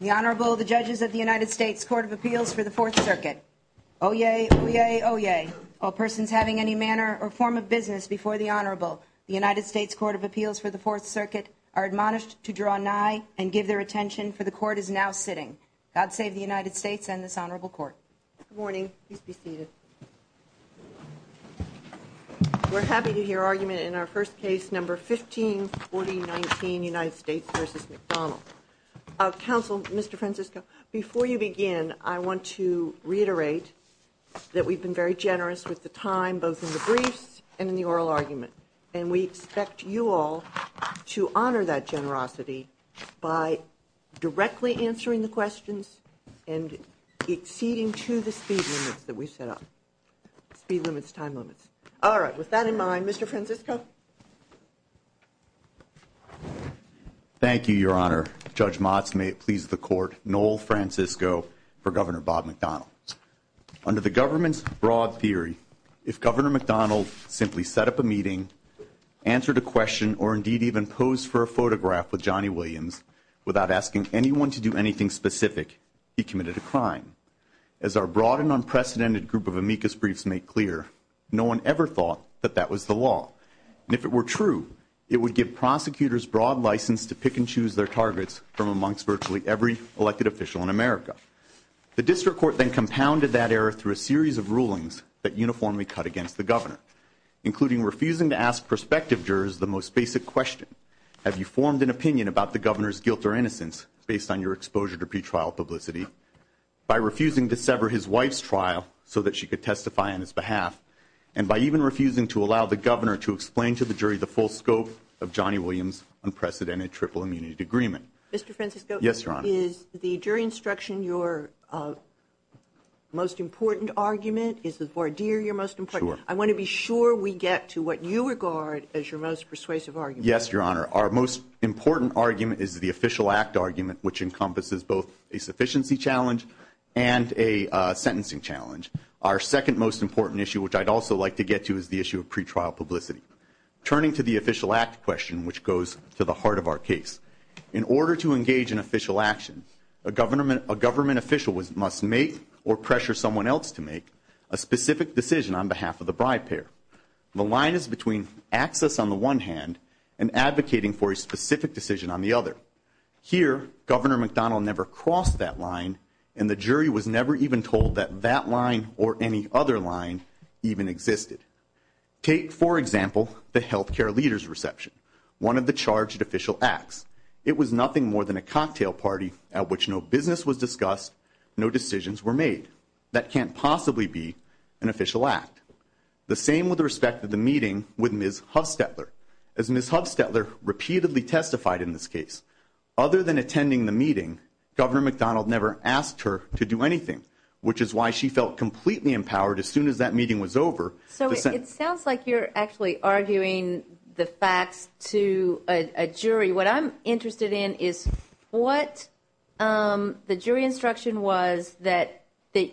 The Honorable, the judges of the United States Court of Appeals for the Fourth Circuit. Oyez, oyez, oyez, all persons having any manner or form of business before the Honorable, the United States Court of Appeals for the Fourth Circuit are admonished to draw nigh and give their attention, for the Court is now sitting. God save the United States and this Honorable Court. Good morning. Please be seated. We're happy to hear argument in our first case, number 154019, United States v. McDonnell. Counsel, Mr. Francisco, before you begin, I want to reiterate that we've been very generous with the time, both in the briefs and in the oral argument, and we expect you all to honor that generosity by directly answering the questions and acceding to the speed limits that we've set up, speed limits, time limits. All right, with that in mind, Mr. Francisco. Thank you, Your Honor. Judge Motz, may it please the Court, Noel Francisco for Governor Bob McDonnell. Under the government's broad theory, if Governor McDonnell simply set up a meeting, answered a question, or indeed even posed for a photograph with Johnny Williams without asking anyone to do anything specific, he committed a crime. As our broad and unprecedented group of amicus briefs make clear, no one ever thought that that was the law. And if it were true, it would give prosecutors broad license to pick and choose their targets from amongst virtually every elected official in America. The district court then compounded that error through a series of rulings that uniformly cut against the governor, including refusing to ask prospective jurors the most basic question, have you formed an opinion about the governor's guilt or innocence based on your exposure to pretrial publicity, by refusing to sever his wife's trial so that she could testify on his behalf, and by even refusing to allow the governor to explain to the jury the full scope of Johnny Williams' unprecedented triple immunity agreement. Mr. Francisco. Yes, Your Honor. Is the jury instruction your most important argument? Is the voir dire your most important argument? I want to be sure we get to what you regard as your most persuasive argument. Yes, Your Honor. Our most important argument is the official act argument, which encompasses both a sufficiency challenge and a sentencing challenge. Our second most important issue, which I'd also like to get to, is the issue of pretrial publicity. Turning to the official act question, which goes to the heart of our case, in order to engage in official action, a government official must make or pressure someone else to make a specific decision on behalf of the bride pair. The line is between access on the one hand and advocating for a specific decision on the other. Here, Governor McDonnell never crossed that line, and the jury was never even told that that line or any other line even existed. Take, for example, the health care leader's reception, one of the charged official acts. It was nothing more than a cocktail party at which no business was discussed, no decisions were made. That can't possibly be an official act. The same with respect to the meeting with Ms. Hufstetler. As Ms. Hufstetler repeatedly testified in this case, other than attending the meeting, Governor McDonnell never asked her to do anything, which is why she felt completely empowered as soon as that meeting was over. Attorney, what I'm interested in is what the jury instruction was that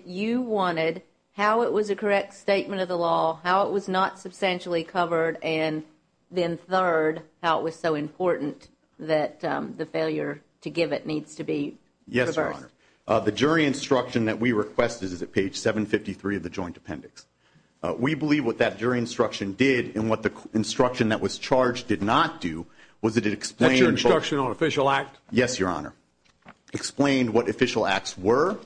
you wanted, how it was a correct statement of the law, how it was not substantially covered, and then third, how it was so important that the failure to give it needs to be reversed. Yes, Your Honor. The jury instruction that we requested is at page 753 of the joint appendix. We believe what that jury instruction did and what the instruction that was charged did not do was that it explained- That's your instruction on official act? Yes, Your Honor. Explained what official acts were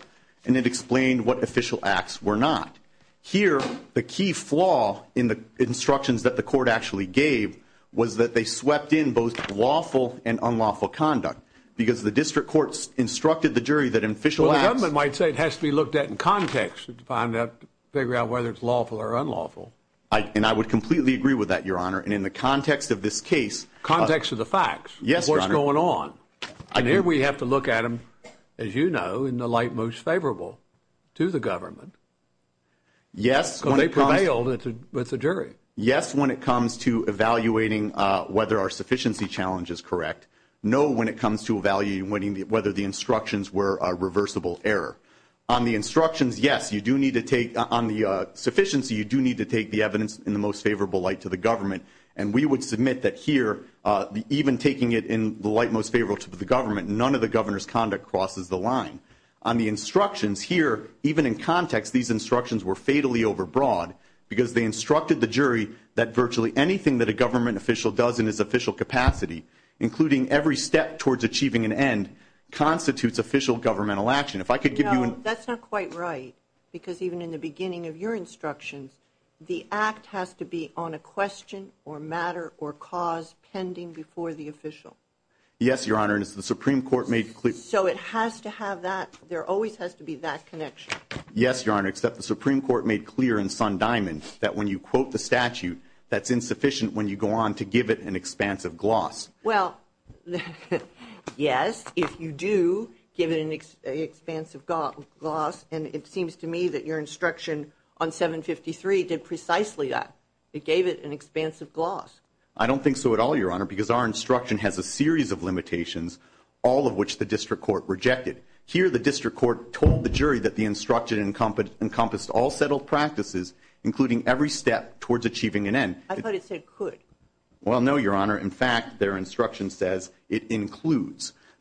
and it explained what official acts were not. Here, the key flaw in the instructions that the court actually gave was that they swept in both lawful and unlawful conduct because the district courts instructed the jury that in official acts- Well, the government might say it has to be looked at in context to find out, figure out whether it's lawful or unlawful. And I would completely agree with that, Your Honor, and in the context of this case- Context of the facts. Yes, Your Honor. What's going on? And here we have to look at them, as you know, in the light most favorable to the government. Yes, when it comes- Because they prevailed with the jury. Yes, when it comes to evaluating whether our sufficiency challenge is correct. No, when it comes to evaluating whether the instructions were a reversible error. On the instructions, yes, you do need to take- And we would submit that here, even taking it in the light most favorable to the government, none of the governor's conduct crosses the line. On the instructions, here, even in context, these instructions were fatally overbroad because they instructed the jury that virtually anything that a government official does in his official capacity, including every step towards achieving an end, constitutes official governmental action. If I could give you- No, that's not quite right because even in the beginning of your instructions, the act has to be on a question or matter or cause pending before the official. Yes, Your Honor, and as the Supreme Court made clear- So it has to have that- there always has to be that connection. Yes, Your Honor, except the Supreme Court made clear in Sundiamon that when you quote the statute, that's insufficient when you go on to give it an expansive gloss. Well, yes, if you do give it an expansive gloss, and it seems to me that your instruction on 753 did precisely that. It gave it an expansive gloss. I don't think so at all, Your Honor, because our instruction has a series of limitations, all of which the district court rejected. Here, the district court told the jury that the instruction encompassed all settled practices, including every step towards achieving an end. I thought it said could. Well, no, Your Honor.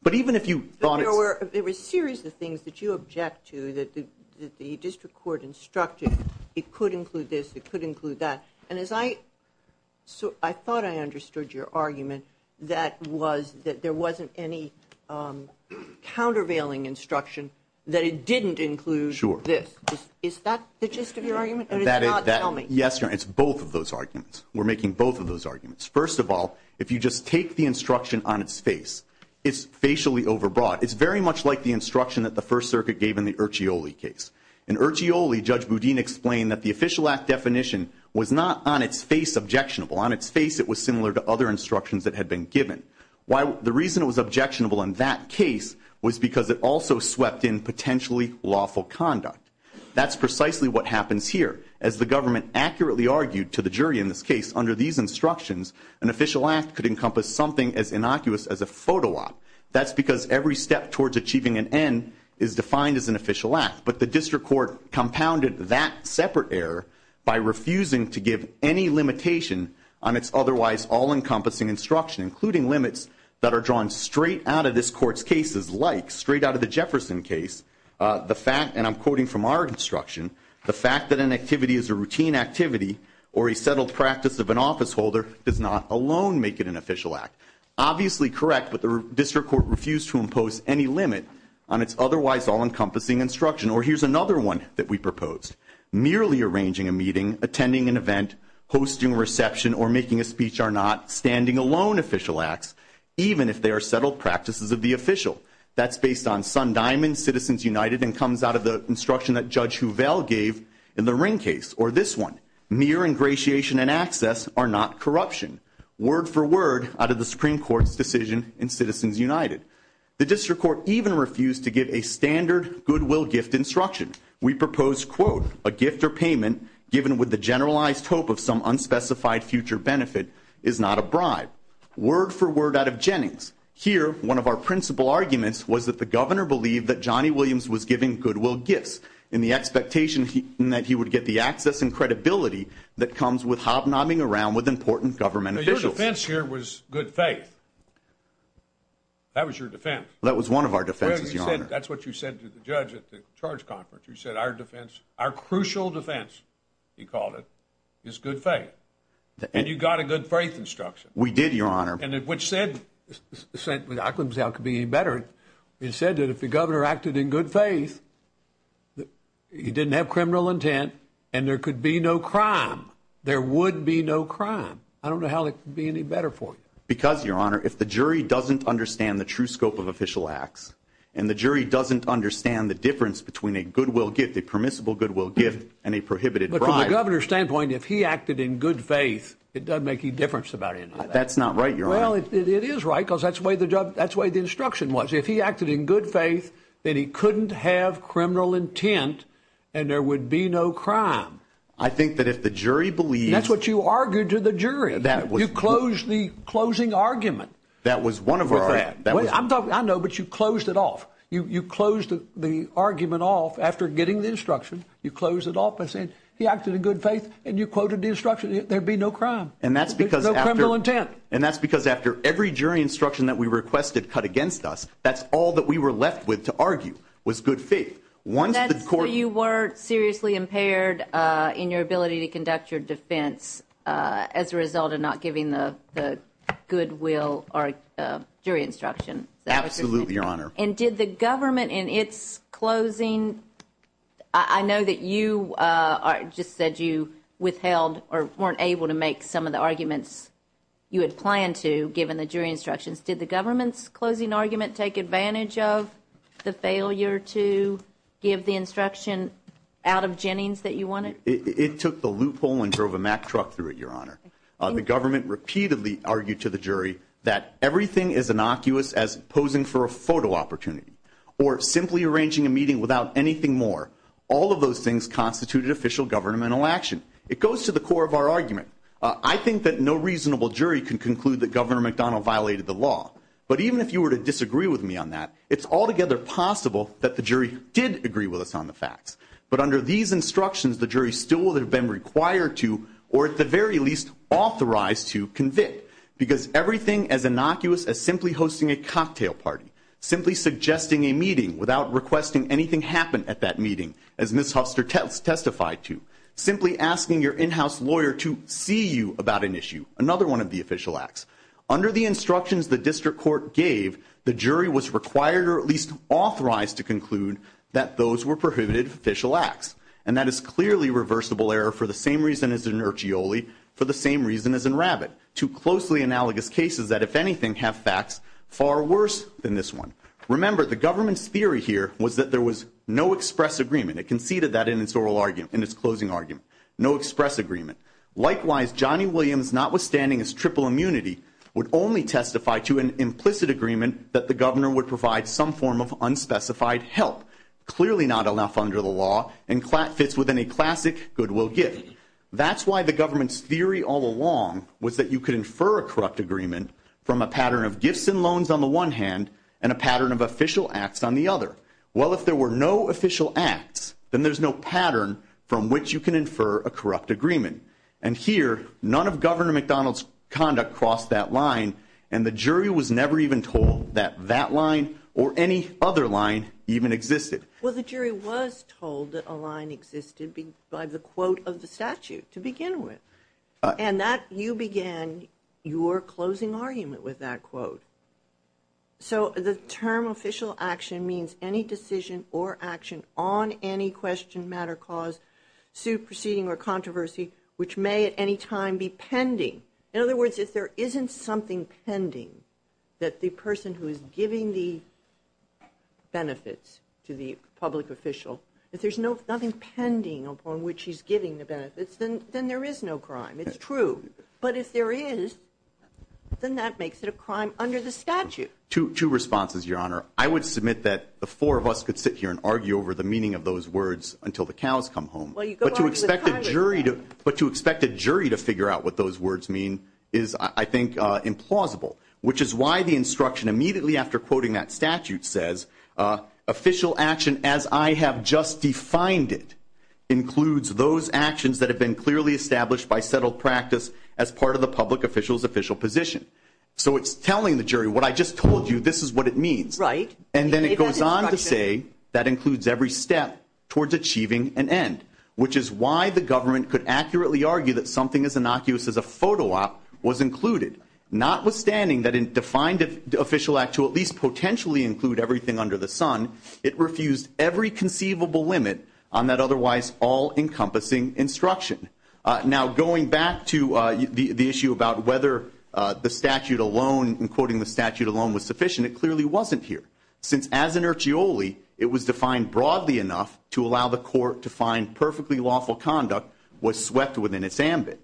But even if you thought it's- There were a series of things that you object to that the district court instructed. It could include this. It could include that. And as I- I thought I understood your argument that was that there wasn't any countervailing instruction that it didn't include this. Sure. Is that the gist of your argument, or is it not? Tell me. Yes, Your Honor, it's both of those arguments. We're making both of those arguments. First of all, if you just take the instruction on its face, it's facially overbroad. It's very much like the instruction that the First Circuit gave in the Ercioli case. In Ercioli, Judge Boudin explained that the official act definition was not on its face objectionable. On its face, it was similar to other instructions that had been given. Why? The reason it was objectionable in that case was because it also swept in potentially lawful conduct. That's precisely what happens here. As the government accurately argued to the jury in this case, under these instructions, an official act could encompass something as innocuous as a photo op. That's because every step towards achieving an end is defined as an official act. But the district court compounded that separate error by refusing to give any limitation on its otherwise all-encompassing instruction, including limits that are drawn straight out of this court's cases like, straight out of the Jefferson case, the fact, and I'm quoting from our instruction, the fact that an activity is a routine activity or a settled practice of an officeholder does not alone make it an official act. Obviously correct, but the district court refused to impose any limit on its otherwise all-encompassing instruction. Or here's another one that we proposed. Merely arranging a meeting, attending an event, hosting a reception, or making a speech are not standing alone official acts, even if they are settled practices of the official. That's based on Sun Diamond, Citizens United, and comes out of the instruction that Judge Huvail gave in the Ring case, or this one. Mere ingratiation and access are not corruption. Word for word out of the Supreme Court's decision in Citizens United. The district court even refused to give a standard goodwill gift instruction. We proposed, quote, a gift or payment given with the generalized hope of some unspecified future benefit is not a bribe. Word for word out of Jennings. Here, one of our principal arguments was that the governor believed that Johnny Williams was giving goodwill gifts that comes with hobnobbing around with important government officials. Your defense here was good faith. That was your defense. That was one of our defenses, Your Honor. That's what you said to the judge at the charge conference. You said our defense, our crucial defense, he called it, is good faith. And you got a good faith instruction. We did, Your Honor. And which said, I couldn't say it could be any better. It said that if the governor acted in good faith, he didn't have criminal intent, and there could be no crime. There would be no crime. I don't know how it could be any better for him. Because, Your Honor, if the jury doesn't understand the true scope of official acts, and the jury doesn't understand the difference between a goodwill gift, a permissible goodwill gift, and a prohibited bribe. But from the governor's standpoint, if he acted in good faith, it doesn't make any difference about any of that. That's not right, Your Honor. Well, it is right, because that's the way the instruction was. If he acted in good faith, then he couldn't have criminal intent, and there would be no crime. I think that if the jury believes— That's what you argued to the jury. You closed the closing argument. That was one of our— I know, but you closed it off. You closed the argument off after getting the instruction. You closed it off by saying, he acted in good faith, and you quoted the instruction. There'd be no crime. And that's because— No criminal intent. Right, and that's because after every jury instruction that we requested cut against us, that's all that we were left with to argue was good faith. Once the court— So you were seriously impaired in your ability to conduct your defense as a result of not giving the goodwill jury instruction. Absolutely, Your Honor. And did the government in its closing—I know that you just said you withheld or weren't able to make some of the arguments you had planned to, given the jury instructions. Did the government's closing argument take advantage of the failure to give the instruction out of Jennings that you wanted? It took the loophole and drove a Mack truck through it, Your Honor. The government repeatedly argued to the jury that everything is innocuous as posing for a photo opportunity or simply arranging a meeting without anything more. All of those things constituted official governmental action. It goes to the core of our argument. I think that no reasonable jury can conclude that Governor McDonnell violated the law. But even if you were to disagree with me on that, it's altogether possible that the jury did agree with us on the facts. But under these instructions, the jury still would have been required to, or at the very least authorized to, convict. Because everything as innocuous as simply hosting a cocktail party, simply suggesting a meeting without requesting anything happen at that meeting, as Ms. Hufster testified to, simply asking your in-house lawyer to see you about an issue, another one of the official acts. Under the instructions the district court gave, the jury was required, or at least authorized, to conclude that those were prohibited official acts. And that is clearly reversible error for the same reason as an urchioli, for the same reason as a rabbit. Two closely analogous cases that, if anything, have facts far worse than this one. Remember, the government's theory here was that there was no express agreement. It conceded that in its closing argument. No express agreement. Likewise, Johnny Williams, notwithstanding his triple immunity, would only testify to an implicit agreement that the governor would provide some form of unspecified help. Clearly not enough under the law, and fits within a classic goodwill gift. That's why the government's theory all along was that you could infer a corrupt agreement from a pattern of gifts and loans on the one hand, and a pattern of official acts on the other. Well, if there were no official acts, then there's no pattern from which you can infer a corrupt agreement. And here, none of Governor McDonald's conduct crossed that line, and the jury was never even told that that line or any other line even existed. Well, the jury was told that a line existed by the quote of the statute to begin with. And that you began your closing argument with that quote. So the term official action means any decision or action on any question, matter, cause, suit, proceeding, or controversy which may at any time be pending. In other words, if there isn't something pending that the person who is giving the benefits to the public official, if there's nothing pending upon which he's giving the benefits, then there is no crime. It's true. But if there is, then that makes it a crime under the statute. Two responses, Your Honor. I would submit that the four of us could sit here and argue over the meaning of those words until the cows come home. But to expect a jury to figure out what those words mean is, I think, implausible. Which is why the instruction immediately after quoting that statute says, official action as I have just defined it includes those actions that have been clearly established by settled practice as part of the public official's official position. So it's telling the jury what I just told you, this is what it means. Right. And then it goes on to say that includes every step towards achieving an end. Which is why the government could accurately argue that something as innocuous as a photo op was included. Notwithstanding that it defined official act to at least potentially include everything under the sun, it refused every conceivable limit on that otherwise all-encompassing instruction. Now, going back to the issue about whether the statute alone, in quoting the statute alone was sufficient, it clearly wasn't here. Since as an urchioli, it was defined broadly enough to allow the court to find perfectly lawful conduct was swept within its ambit.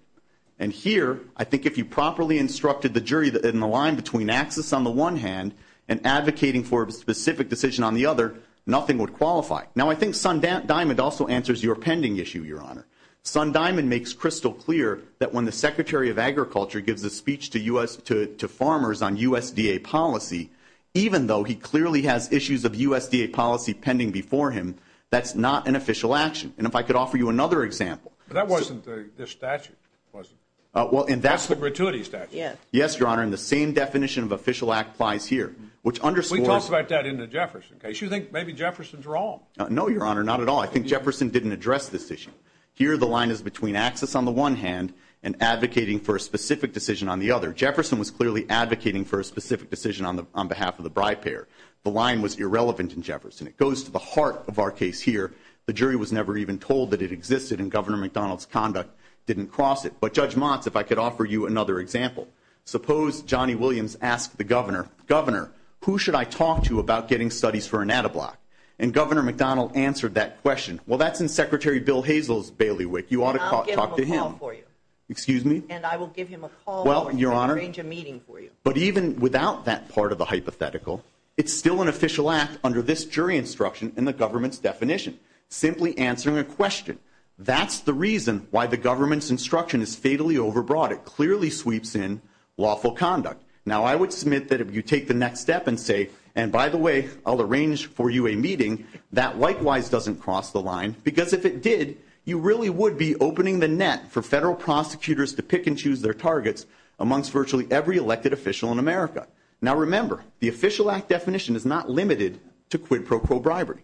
And here, I think if you properly instructed the jury in the line between axis on the one hand and advocating for a specific decision on the other, nothing would qualify. Now, I think Sun Diamond also answers your pending issue, Your Honor. Sun Diamond makes crystal clear that when the Secretary of Agriculture gives a speech to farmers on USDA policy, even though he clearly has issues of USDA policy pending before him, that's not an official action. And if I could offer you another example. That wasn't the statute, was it? That's the gratuity statute. Yes, Your Honor. And the same definition of official act applies here, which underscores. We talked about that in the Jefferson case. You think maybe Jefferson's wrong. No, Your Honor, not at all. I think Jefferson didn't address this issue. Here, the line is between axis on the one hand and advocating for a specific decision on the other. Jefferson was clearly advocating for a specific decision on behalf of the bribe payer. The line was irrelevant in Jefferson. It goes to the heart of our case here. The jury was never even told that it existed, and Governor McDonald's conduct didn't cross it. But, Judge Motz, if I could offer you another example. Suppose Johnny Williams asked the governor, Governor, who should I talk to about getting studies for a natto block? And Governor McDonald answered that question. Well, that's in Secretary Bill Hazel's bailiwick. You ought to talk to him. And I'll give him a call for you. Excuse me? And I will give him a call. Well, Your Honor. Or arrange a meeting for you. But even without that part of the hypothetical, it's still an official act under this jury instruction and the government's definition. Simply answering a question. That's the reason why the government's instruction is fatally overbroad. It clearly sweeps in lawful conduct. Now, I would submit that if you take the next step and say, and by the way, I'll arrange for you a meeting, that likewise doesn't cross the line. Because if it did, you really would be opening the net for federal prosecutors to pick and choose their targets amongst virtually every elected official in America. Now, remember, the official act definition is not limited to quid pro quo bribery.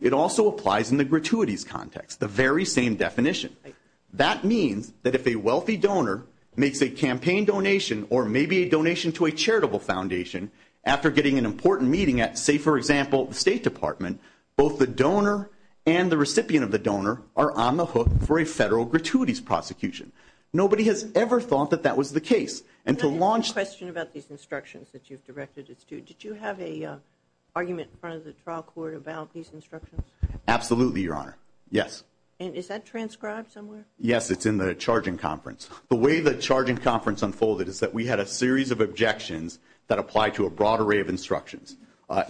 It also applies in the gratuities context. The very same definition. That means that if a wealthy donor makes a campaign donation or maybe a donation to a charitable foundation, after getting an important meeting at, say, for example, the State Department, both the donor and the recipient of the donor are on the hook for a federal gratuities prosecution. Nobody has ever thought that that was the case. I have a question about these instructions that you've directed us to. Did you have an argument in front of the trial court about these instructions? Absolutely, Your Honor. Yes. And is that transcribed somewhere? Yes, it's in the charging conference. The way the charging conference unfolded is that we had a series of objections that applied to a broad array of instructions.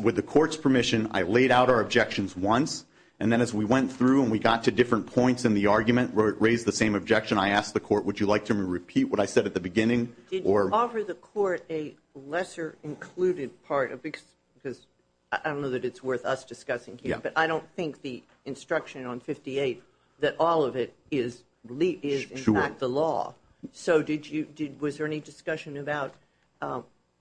With the court's permission, I laid out our objections once, and then as we went through and we got to different points in the argument where it raised the same objection, I asked the court, would you like to repeat what I said at the beginning? Did you offer the court a lesser included part? Because I don't know that it's worth us discussing here, but I don't think the instruction on 58, that all of it is in fact the law. So was there any discussion about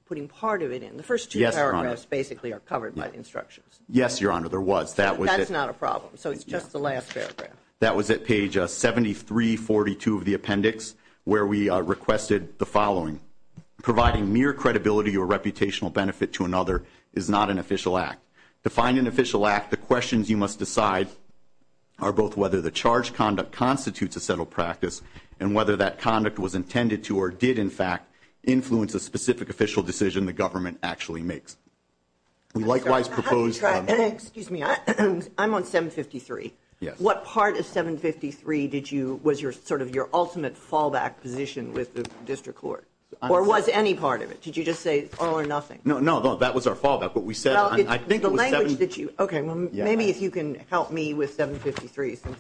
putting part of it in? The first two paragraphs basically are covered by the instructions. Yes, Your Honor, there was. That's not a problem. So it's just the last paragraph. That was at page 7342 of the appendix where we requested the following. Providing mere credibility or reputational benefit to another is not an official act. To find an official act, the questions you must decide are both whether the charged conduct constitutes a settled practice and whether that conduct was intended to or did, in fact, influence a specific official decision the government actually makes. We likewise propose. Excuse me. I'm on 753. Yes. What part of 753 was sort of your ultimate fallback position with the district court? Or was any part of it? Did you just say all or nothing? No, no, that was our fallback. What we said, I think it was 753. Okay, well, maybe if you can help me with 753 since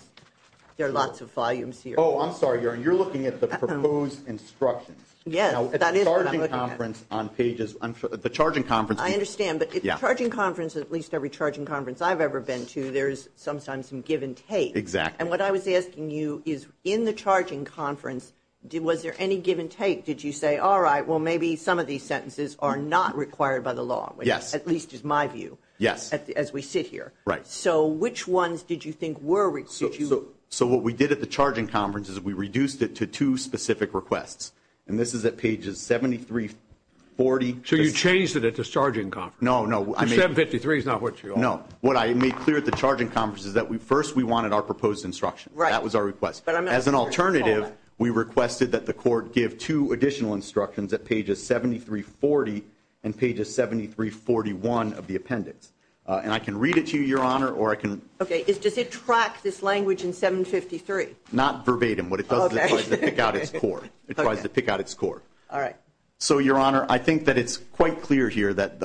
there are lots of volumes here. Oh, I'm sorry, Your Honor. You're looking at the proposed instructions. Yes, that is what I'm looking at. The charging conference. I understand. But the charging conference, at least every charging conference I've ever been to, there is sometimes some give and take. Exactly. And what I was asking you is in the charging conference, was there any give and take? Did you say, all right, well, maybe some of these sentences are not required by the law? Yes. At least is my view as we sit here. Right. So which ones did you think were required? So what we did at the charging conference is we reduced it to two specific requests. And this is at pages 7340. So you changed it at the charging conference? No, no. 753 is not what you are. No. What I made clear at the charging conference is that first we wanted our proposed instruction. Right. That was our request. As an alternative, we requested that the court give two additional instructions at pages 7340 and pages 7341 of the appendix. And I can read it to you, Your Honor, or I can. Okay. Does it track this language in 753? Not verbatim. What it does is it tries to pick out its core. It tries to pick out its core. All right. So, Your Honor, I think that it's quite clear here that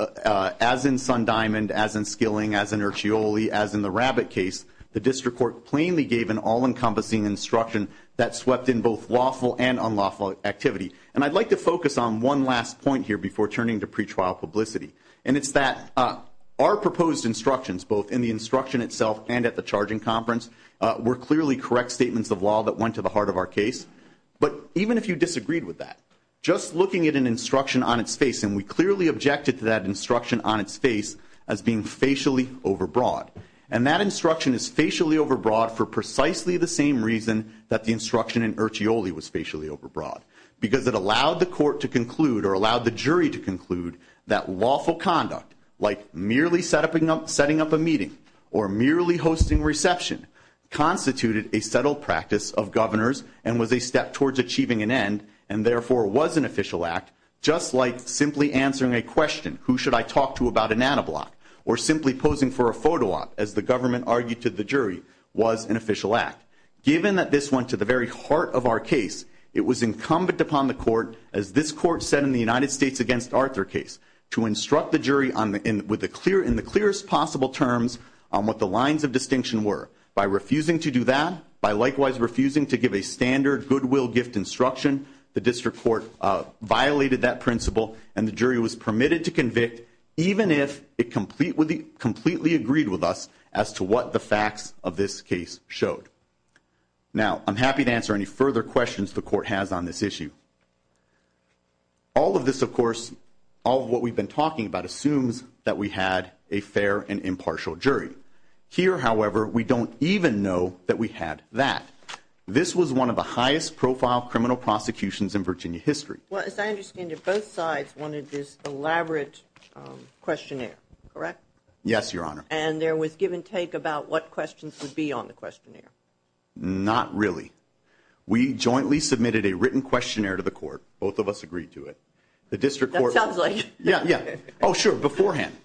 as in Sundiamond, as in Skilling, as in Urchioli, as in the Rabbit case, the district court plainly gave an all-encompassing instruction that swept in both lawful and unlawful activity. And I'd like to focus on one last point here before turning to pretrial publicity. And it's that our proposed instructions, both in the instruction itself and at the charging conference, were clearly correct statements of law that went to the heart of our case. But even if you disagreed with that, just looking at an instruction on its face, and we clearly objected to that instruction on its face as being facially overbroad. And that instruction is facially overbroad for precisely the same reason that the instruction in Urchioli was facially overbroad, because it allowed the court to conclude or allowed the jury to conclude that lawful conduct, like merely setting up a meeting or merely hosting reception, constituted a settled practice of governors and was a step towards achieving an end, and therefore was an official act, just like simply answering a question, who should I talk to about a nano block, or simply posing for a photo op, as the government argued to the jury, was an official act. Given that this went to the very heart of our case, it was incumbent upon the court, as this court said in the United States against Arthur case, to instruct the jury in the clearest possible terms on what the lines of distinction were. By refusing to do that, by likewise refusing to give a standard goodwill gift instruction, the district court violated that principle, and the jury was permitted to convict, even if it completely agreed with us as to what the facts of this case showed. Now, I'm happy to answer any further questions the court has on this issue. All of this, of course, all of what we've been talking about assumes that we had a fair and impartial jury. Here, however, we don't even know that we had that. This was one of the highest profile criminal prosecutions in Virginia history. Well, as I understand it, both sides wanted this elaborate questionnaire, correct? Yes, Your Honor. And there was give and take about what questions would be on the questionnaire? Not really. We jointly submitted a written questionnaire to the court. Both of us agreed to it. That sounds like it. Yeah, yeah. Oh, sure, beforehand.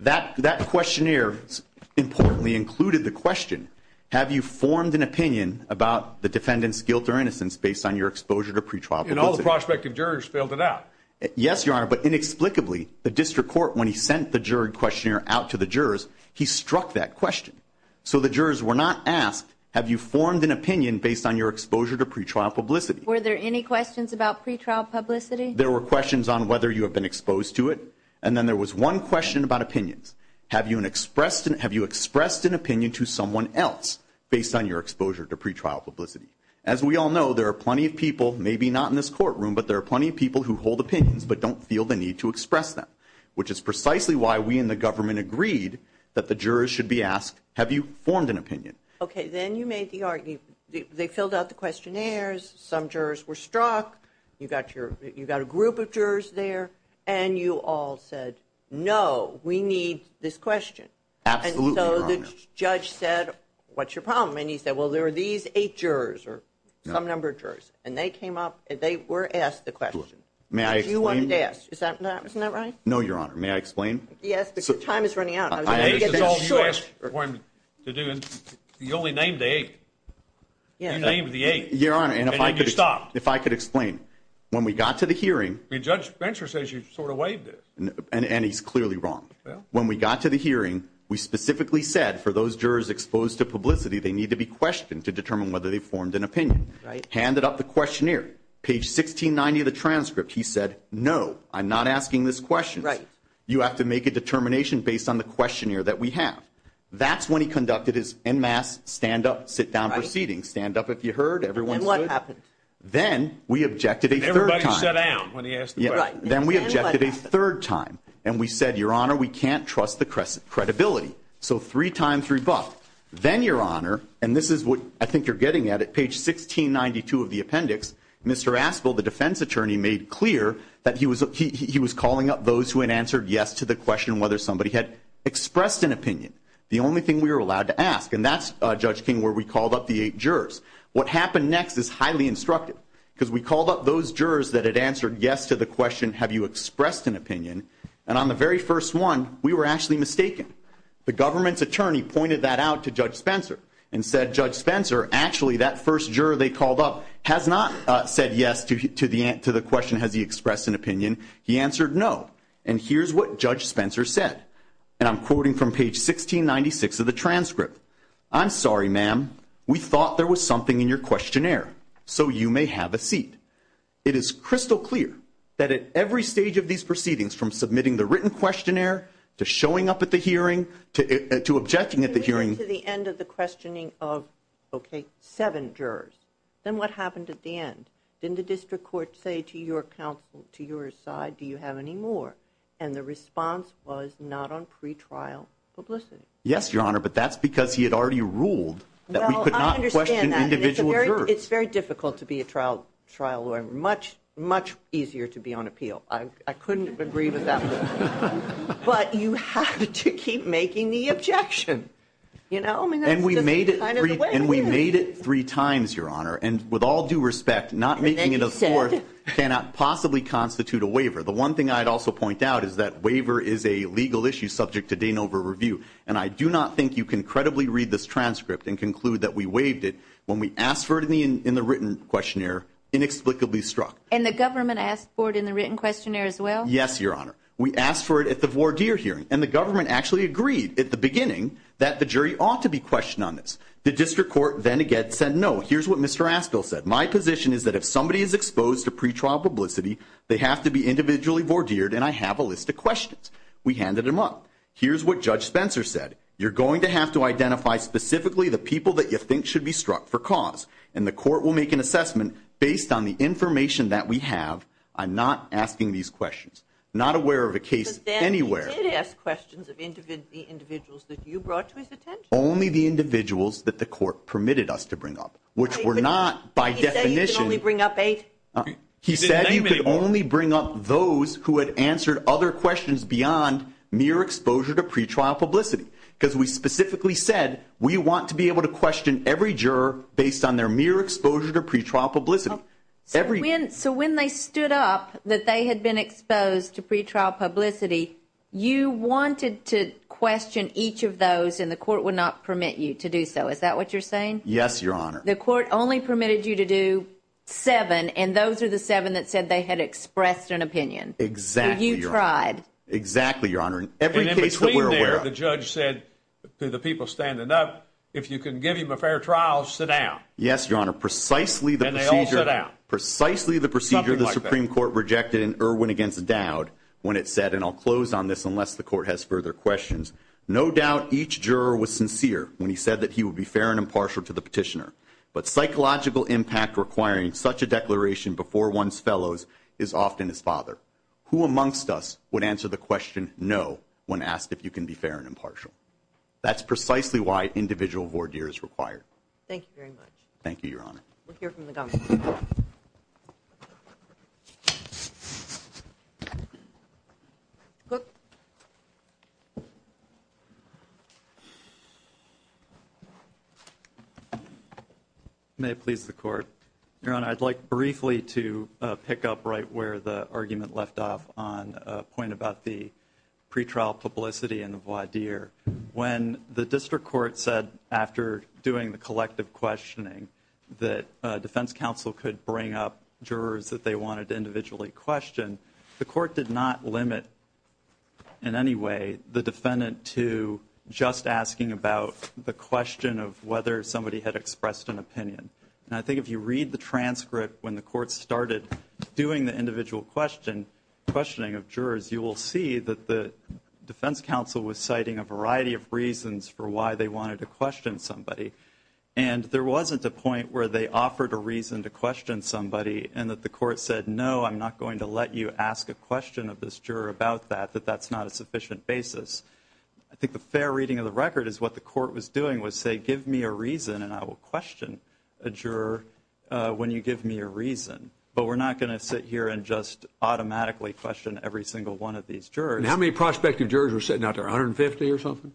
That questionnaire, importantly, included the question, have you formed an opinion about the defendant's guilt or innocence based on your exposure to pretrial visit? And all the prospective jurors filled it out. Yes, Your Honor, but inexplicably, the district court, when he sent the juried questionnaire out to the jurors, he struck that question. So the jurors were not asked, have you formed an opinion based on your exposure to pretrial publicity? Were there any questions about pretrial publicity? There were questions on whether you have been exposed to it, and then there was one question about opinions. Have you expressed an opinion to someone else based on your exposure to pretrial publicity? As we all know, there are plenty of people, maybe not in this courtroom, but there are plenty of people who hold opinions but don't feel the need to express them, which is precisely why we in the government agreed that the jurors should be asked, have you formed an opinion? Okay, then you made the argument. They filled out the questionnaires. Some jurors were struck. You got a group of jurors there, and you all said, no, we need this question. Absolutely, Your Honor. And so the judge said, what's your problem? And he said, well, there are these eight jurors or some number of jurors, and they came up, and they were asked the question that you wanted to ask. Isn't that right? No, Your Honor. May I explain? Yes, but your time is running out. You only named the eight. You named the eight, and then you stopped. If I could explain. When we got to the hearing. Judge Bencher says you sort of waived it. And he's clearly wrong. When we got to the hearing, we specifically said for those jurors exposed to publicity, they need to be questioned to determine whether they formed an opinion. Handed up the questionnaire. Page 1690 of the transcript, he said, no, I'm not asking this question. Right. You have to make a determination based on the questionnaire that we have. That's when he conducted his en masse stand up, sit down proceedings. Stand up if you heard. Everyone stood. And what happened? Then we objected a third time. Everybody sat down when he asked the question. Right. Then we objected a third time. And we said, Your Honor, we can't trust the credibility. So three times rebut. Then, Your Honor, and this is what I think you're getting at. At page 1692 of the appendix, Mr. Aspel, the defense attorney, made clear that he was calling up those who had answered yes to the question whether somebody had expressed an opinion. The only thing we were allowed to ask. And that's, Judge King, where we called up the eight jurors. What happened next is highly instructive. Because we called up those jurors that had answered yes to the question, have you expressed an opinion. And on the very first one, we were actually mistaken. The government's attorney pointed that out to Judge Spencer and said, Judge Spencer, actually that first juror they called up has not said yes to the question, has he expressed an opinion. He answered no. And here's what Judge Spencer said. And I'm quoting from page 1696 of the transcript. I'm sorry, ma'am. We thought there was something in your questionnaire. So you may have a seat. It is crystal clear that at every stage of these proceedings, from submitting the written questionnaire to showing up at the hearing to objecting at the hearing. To the end of the questioning of, okay, seven jurors. Then what happened at the end? Didn't the district court say to your counsel, to your side, do you have any more? And the response was not on pretrial publicity. Yes, Your Honor, but that's because he had already ruled that we could not question individual jurors. It's very difficult to be a trial lawyer. Much, much easier to be on appeal. I couldn't agree with that one. But you have to keep making the objection. And we made it three times, Your Honor. And with all due respect, not making it a fourth cannot possibly constitute a waiver. The one thing I'd also point out is that waiver is a legal issue subject to Danover review. And I do not think you can credibly read this transcript and conclude that we waived it when we asked for it in the written questionnaire, inexplicably struck. And the government asked for it in the written questionnaire as well? Yes, Your Honor. We asked for it at the voir dire hearing, and the government actually agreed at the beginning that the jury ought to be questioned on this. The district court then again said no. Here's what Mr. Askell said. My position is that if somebody is exposed to pretrial publicity, they have to be individually voir dired, and I have a list of questions. We handed them up. Here's what Judge Spencer said. You're going to have to identify specifically the people that you think should be struck for cause, and the court will make an assessment based on the information that we have on not asking these questions, not aware of a case anywhere. But then he did ask questions of the individuals that you brought to his attention. Only the individuals that the court permitted us to bring up, which were not by definition. Did he say you could only bring up eight? He said you could only bring up those who had answered other questions beyond mere exposure to pretrial publicity because we specifically said we want to be able to question every juror based on their mere exposure to pretrial publicity. So when they stood up that they had been exposed to pretrial publicity, you wanted to question each of those, and the court would not permit you to do so. Is that what you're saying? Yes, Your Honor. The court only permitted you to do seven, and those are the seven that said they had expressed an opinion. Exactly, Your Honor. You tried. Exactly, Your Honor. And in between there, the judge said to the people standing up, if you can give him a fair trial, sit down. Yes, Your Honor. Precisely the procedure the Supreme Court rejected in Irwin against Dowd when it said, and I'll close on this unless the court has further questions, no doubt each juror was sincere when he said that he would be fair and impartial to the petitioner, but psychological impact requiring such a declaration before one's fellows is often his father. Who amongst us would answer the question no when asked if you can be fair and impartial? That's precisely why individual voir dire is required. Thank you very much. Thank you, Your Honor. We'll hear from the government. May it please the Court. Your Honor, I'd like briefly to pick up right where the argument left off on a point about the pretrial publicity and the voir dire. When the district court said after doing the collective questioning that defense counsel could bring up jurors that they wanted to individually question, the court did not limit in any way the defendant to just asking about the question of whether somebody had expressed an opinion. And I think if you read the transcript when the court started doing the individual questioning of jurors, you will see that the defense counsel was citing a variety of reasons for why they wanted to question somebody. And there wasn't a point where they offered a reason to question somebody and that the court said, no, I'm not going to let you ask a question of this juror about that, that that's not a sufficient basis. I think the fair reading of the record is what the court was doing was say, give me a reason and I will question a juror when you give me a reason. But we're not going to sit here and just automatically question every single one of these jurors. How many prospective jurors were sitting out there, 150 or something?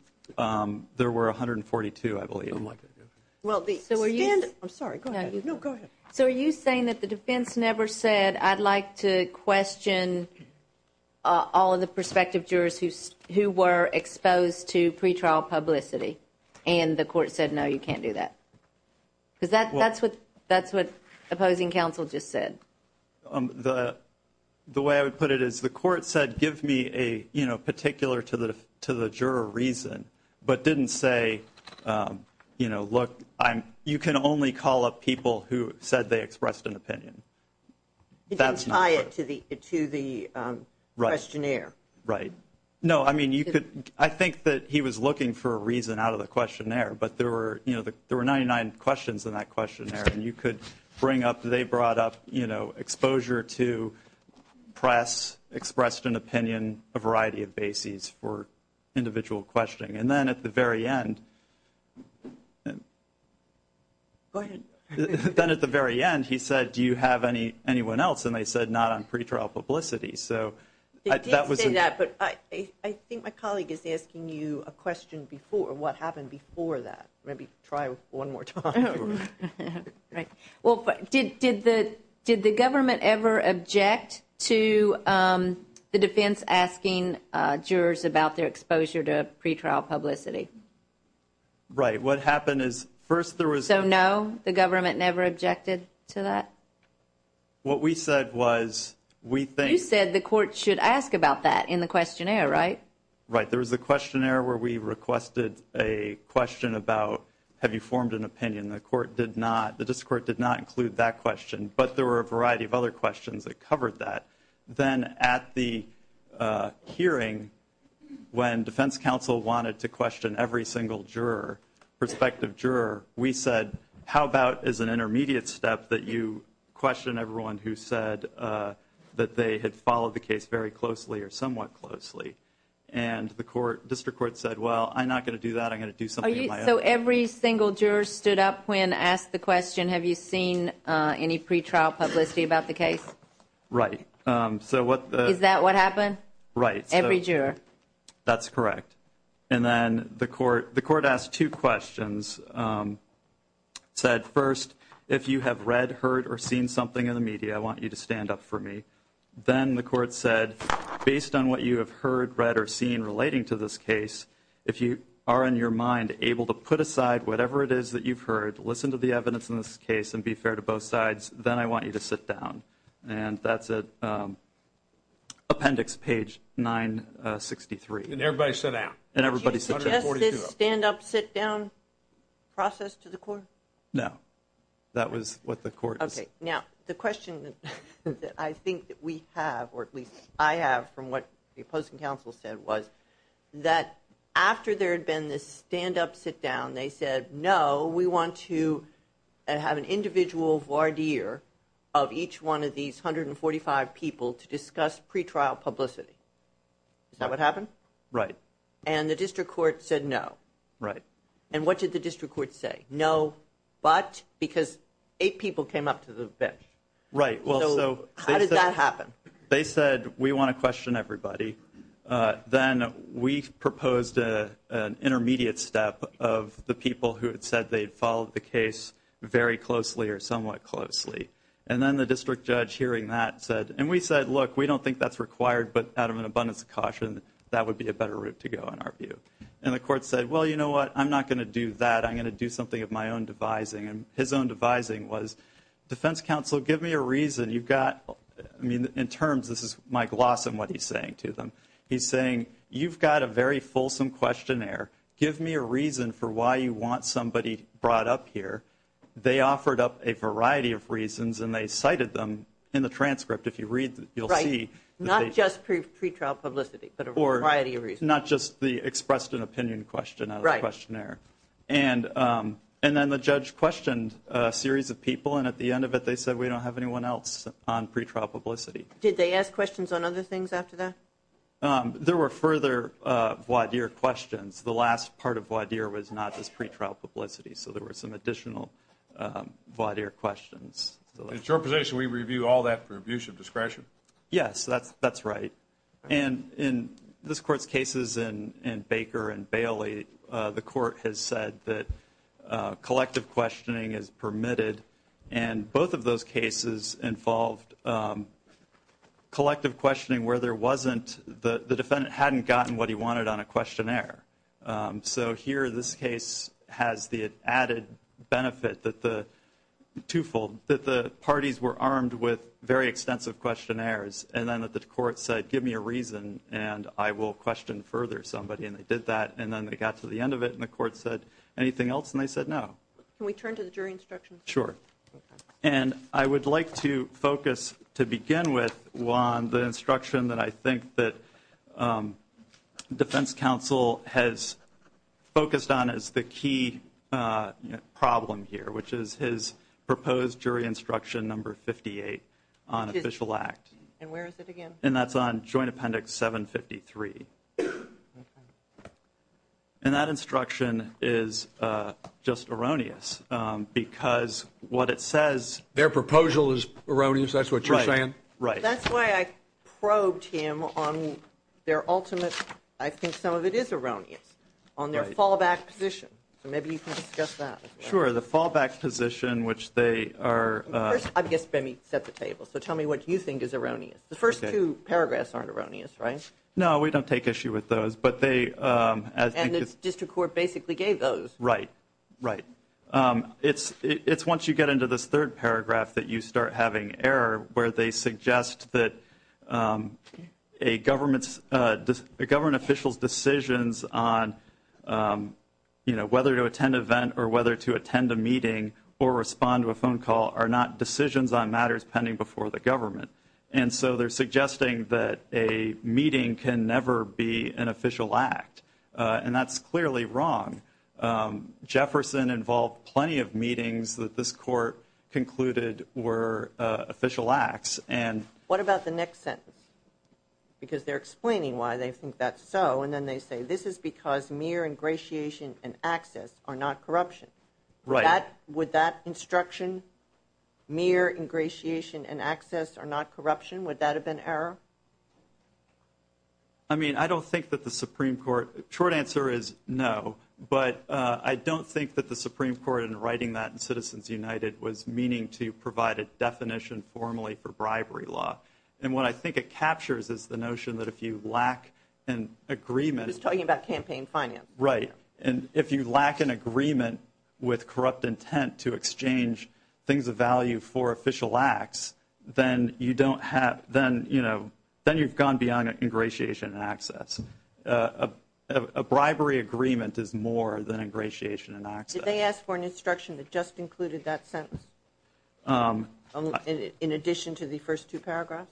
There were 142, I believe. Well, I'm sorry. No, go ahead. So are you saying that the defense never said, I'd like to question all of the prospective jurors who were exposed to pretrial publicity and the court said, no, you can't do that? Because that's what opposing counsel just said. The way I would put it is the court said, give me a particular to the juror reason, but didn't say, you know, look, you can only call up people who said they expressed an opinion. It didn't tie it to the questionnaire. Right. No, I mean, I think that he was looking for a reason out of the questionnaire, but there were 99 questions in that questionnaire, and you could bring up, they brought up, you know, exposure to press, expressed an opinion, a variety of bases for individual questioning. And then at the very end he said, do you have anyone else? And they said not on pretrial publicity. It did say that, but I think my colleague is asking you a question before, what happened before that. Maybe try one more time. Well, did the government ever object to the defense asking jurors about their exposure to pretrial publicity? Right. What happened is first there was. So no, the government never objected to that? What we said was we think. You said the court should ask about that in the questionnaire, right? Right. There was a questionnaire where we requested a question about have you formed an opinion. The court did not, the district court did not include that question, but there were a variety of other questions that covered that. Then at the hearing when defense counsel wanted to question every single juror, we said how about as an intermediate step that you question everyone who said that they had followed the case very closely or somewhat closely. And the district court said, well, I'm not going to do that. I'm going to do something in my own way. So every single juror stood up when asked the question, have you seen any pretrial publicity about the case? Right. Is that what happened? Right. Every juror. That's correct. And then the court asked two questions, said first, if you have read, heard, or seen something in the media, I want you to stand up for me. Then the court said, based on what you have heard, read, or seen relating to this case, if you are in your mind able to put aside whatever it is that you've heard, listen to the evidence in this case, and be fair to both sides, then I want you to sit down. And that's appendix page 963. And everybody sat down. Did you suggest this stand-up, sit-down process to the court? No. That was what the court said. Okay. Now, the question that I think that we have, or at least I have from what the opposing counsel said, was that after there had been this stand-up, sit-down, they said, no, we want to have an individual voir dire of each one of these 145 people to discuss pretrial publicity. Is that what happened? Right. And the district court said no. Right. And what did the district court say? No, but, because eight people came up to the bench. Right. So how did that happen? They said, we want to question everybody. Then we proposed an intermediate step of the people who had said they had followed the case very closely or somewhat closely. And then the district judge, hearing that, said, and we said, look, we don't think that's required, but out of an abundance of caution, that would be a better route to go in our view. And the court said, well, you know what, I'm not going to do that. I'm going to do something of my own devising. And his own devising was, defense counsel, give me a reason. You've got, I mean, in terms, this is Mike Lawson, what he's saying to them. He's saying, you've got a very fulsome questionnaire. Give me a reason for why you want somebody brought up here. They offered up a variety of reasons, and they cited them in the transcript. If you read, you'll see. Right. Not just pretrial publicity, but a variety of reasons. Or not just the expressed an opinion question out of the questionnaire. Right. And then the judge questioned a series of people, and at the end of it they said, we don't have anyone else on pretrial publicity. Did they ask questions on other things after that? There were further voir dire questions. The last part of voir dire was not just pretrial publicity, so there were some additional voir dire questions. At your position, we review all that for abuse of discretion? Yes, that's right. And in this Court's cases in Baker and Bailey, the Court has said that collective questioning is permitted, and both of those cases involved collective questioning where there wasn't, the defendant hadn't gotten what he wanted on a questionnaire. So here this case has the added benefit that the twofold, that the parties were armed with very extensive questionnaires, and then that the Court said, give me a reason, and I will question further somebody, and they did that. And then they got to the end of it, and the Court said, anything else? And they said no. Can we turn to the jury instructions? Sure. Okay. And I would like to focus, to begin with, Juan, on the instruction that I think that defense counsel has focused on as the key problem here, which is his proposed jury instruction number 58 on official act. And where is it again? And that's on Joint Appendix 753. And that instruction is just erroneous because what it says. Their proposal is erroneous, that's what you're saying? Right. That's why I probed him on their ultimate, I think some of it is erroneous, on their fallback position. So maybe you can discuss that. Sure. The fallback position, which they are. First, I guess let me set the table. So tell me what you think is erroneous. The first two paragraphs aren't erroneous, right? No, we don't take issue with those, but they. And the district court basically gave those. Right, right. It's once you get into this third paragraph that you start having error where they suggest that a government official's decisions on, you know, whether to attend an event or whether to attend a meeting or respond to a phone call are not decisions on matters pending before the government. And so they're suggesting that a meeting can never be an official act. And that's clearly wrong. Jefferson involved plenty of meetings that this court concluded were official acts. What about the next sentence? Because they're explaining why they think that's so, and then they say this is because mere ingratiation and access are not corruption. Right. Would that instruction, mere ingratiation and access are not corruption, would that have been error? I mean, I don't think that the Supreme Court. The short answer is no, but I don't think that the Supreme Court in writing that in Citizens United was meaning to provide a definition formally for bribery law. And what I think it captures is the notion that if you lack an agreement. He's talking about campaign finance. Right. And if you lack an agreement with corrupt intent to exchange things of value for official acts, then you've gone beyond ingratiation and access. A bribery agreement is more than ingratiation and access. Did they ask for an instruction that just included that sentence in addition to the first two paragraphs?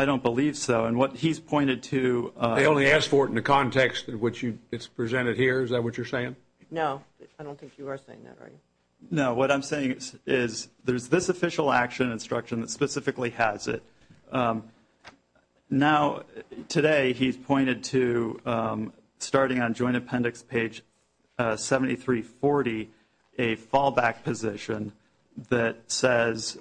I don't believe so. And what he's pointed to. They only asked for it in the context in which it's presented here. Is that what you're saying? No. I don't think you are saying that, are you? No. What I'm saying is there's this official action instruction that specifically has it. Now, today he's pointed to, starting on joint appendix page 7340, a fallback position that says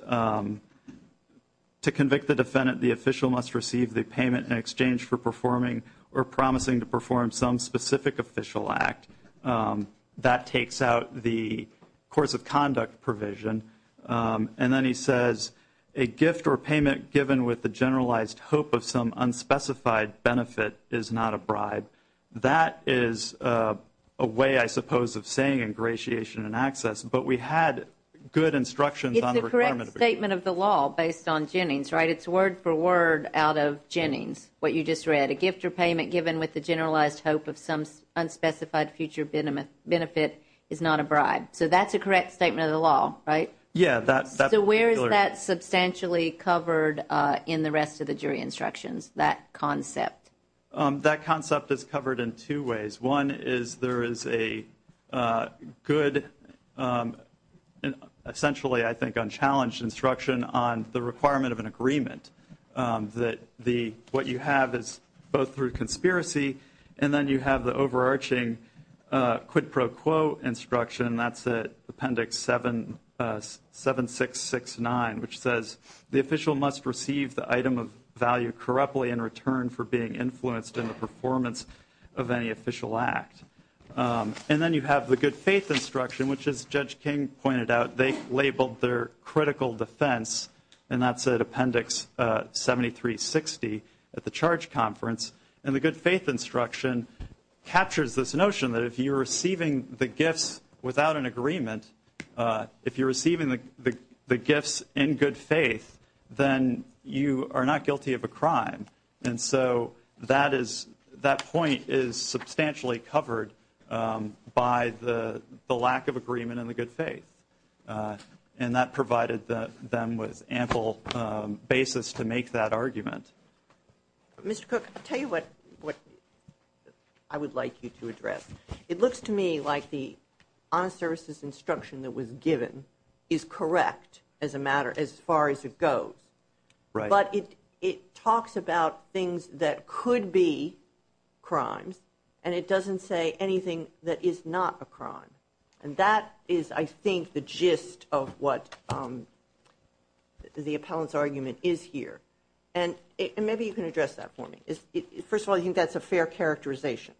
to convict the defendant, the official must receive the payment in exchange for performing or promising to perform some specific official act. That takes out the course of conduct provision. And then he says a gift or payment given with the generalized hope of some unspecified benefit is not a bribe. That is a way, I suppose, of saying ingratiation and access. But we had good instructions on the requirement. It's the correct statement of the law based on Jennings, right? It's word for word out of Jennings, what you just read. A gift or payment given with the generalized hope of some unspecified future benefit is not a bribe. So that's a correct statement of the law, right? Yeah. So where is that substantially covered in the rest of the jury instructions, that concept? That concept is covered in two ways. One is there is a good, essentially, I think, unchallenged instruction on the requirement of an agreement. What you have is both through conspiracy and then you have the overarching quid pro quo instruction, and that's Appendix 7669, which says the official must receive the item of value correctly in return for being influenced in the performance of any official act. And then you have the good faith instruction, which, as Judge King pointed out, they labeled their critical defense, and that's at Appendix 7360 at the charge conference. And the good faith instruction captures this notion that if you're receiving the gifts without an agreement, if you're receiving the gifts in good faith, then you are not guilty of a crime. And so that point is substantially covered by the lack of agreement in the good faith. And that provided them with ample basis to make that argument. Mr. Cook, I'll tell you what I would like you to address. It looks to me like the honest services instruction that was given is correct as far as it goes. Right. But it talks about things that could be crimes, and it doesn't say anything that is not a crime. And that is, I think, the gist of what the appellant's argument is here. And maybe you can address that for me. First of all, I think that's a fair characterization.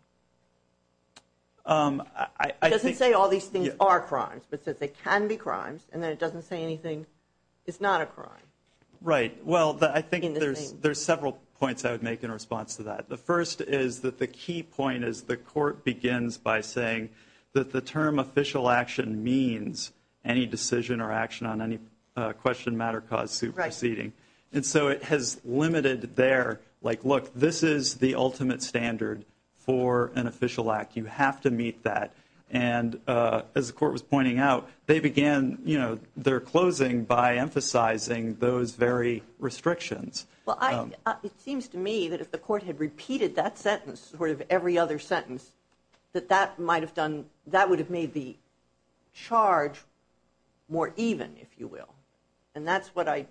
It doesn't say all these things are crimes, but it says they can be crimes, Right. Well, I think there's several points I would make in response to that. The first is that the key point is the court begins by saying that the term official action means any decision or action on any question, matter, cause, suit proceeding. And so it has limited there, like, look, this is the ultimate standard for an official act. You have to meet that. And as the court was pointing out, they began their closing by emphasizing those very restrictions. Well, it seems to me that if the court had repeated that sentence, sort of every other sentence, that that might have done, that would have made the charge more even, if you will. And that's what I,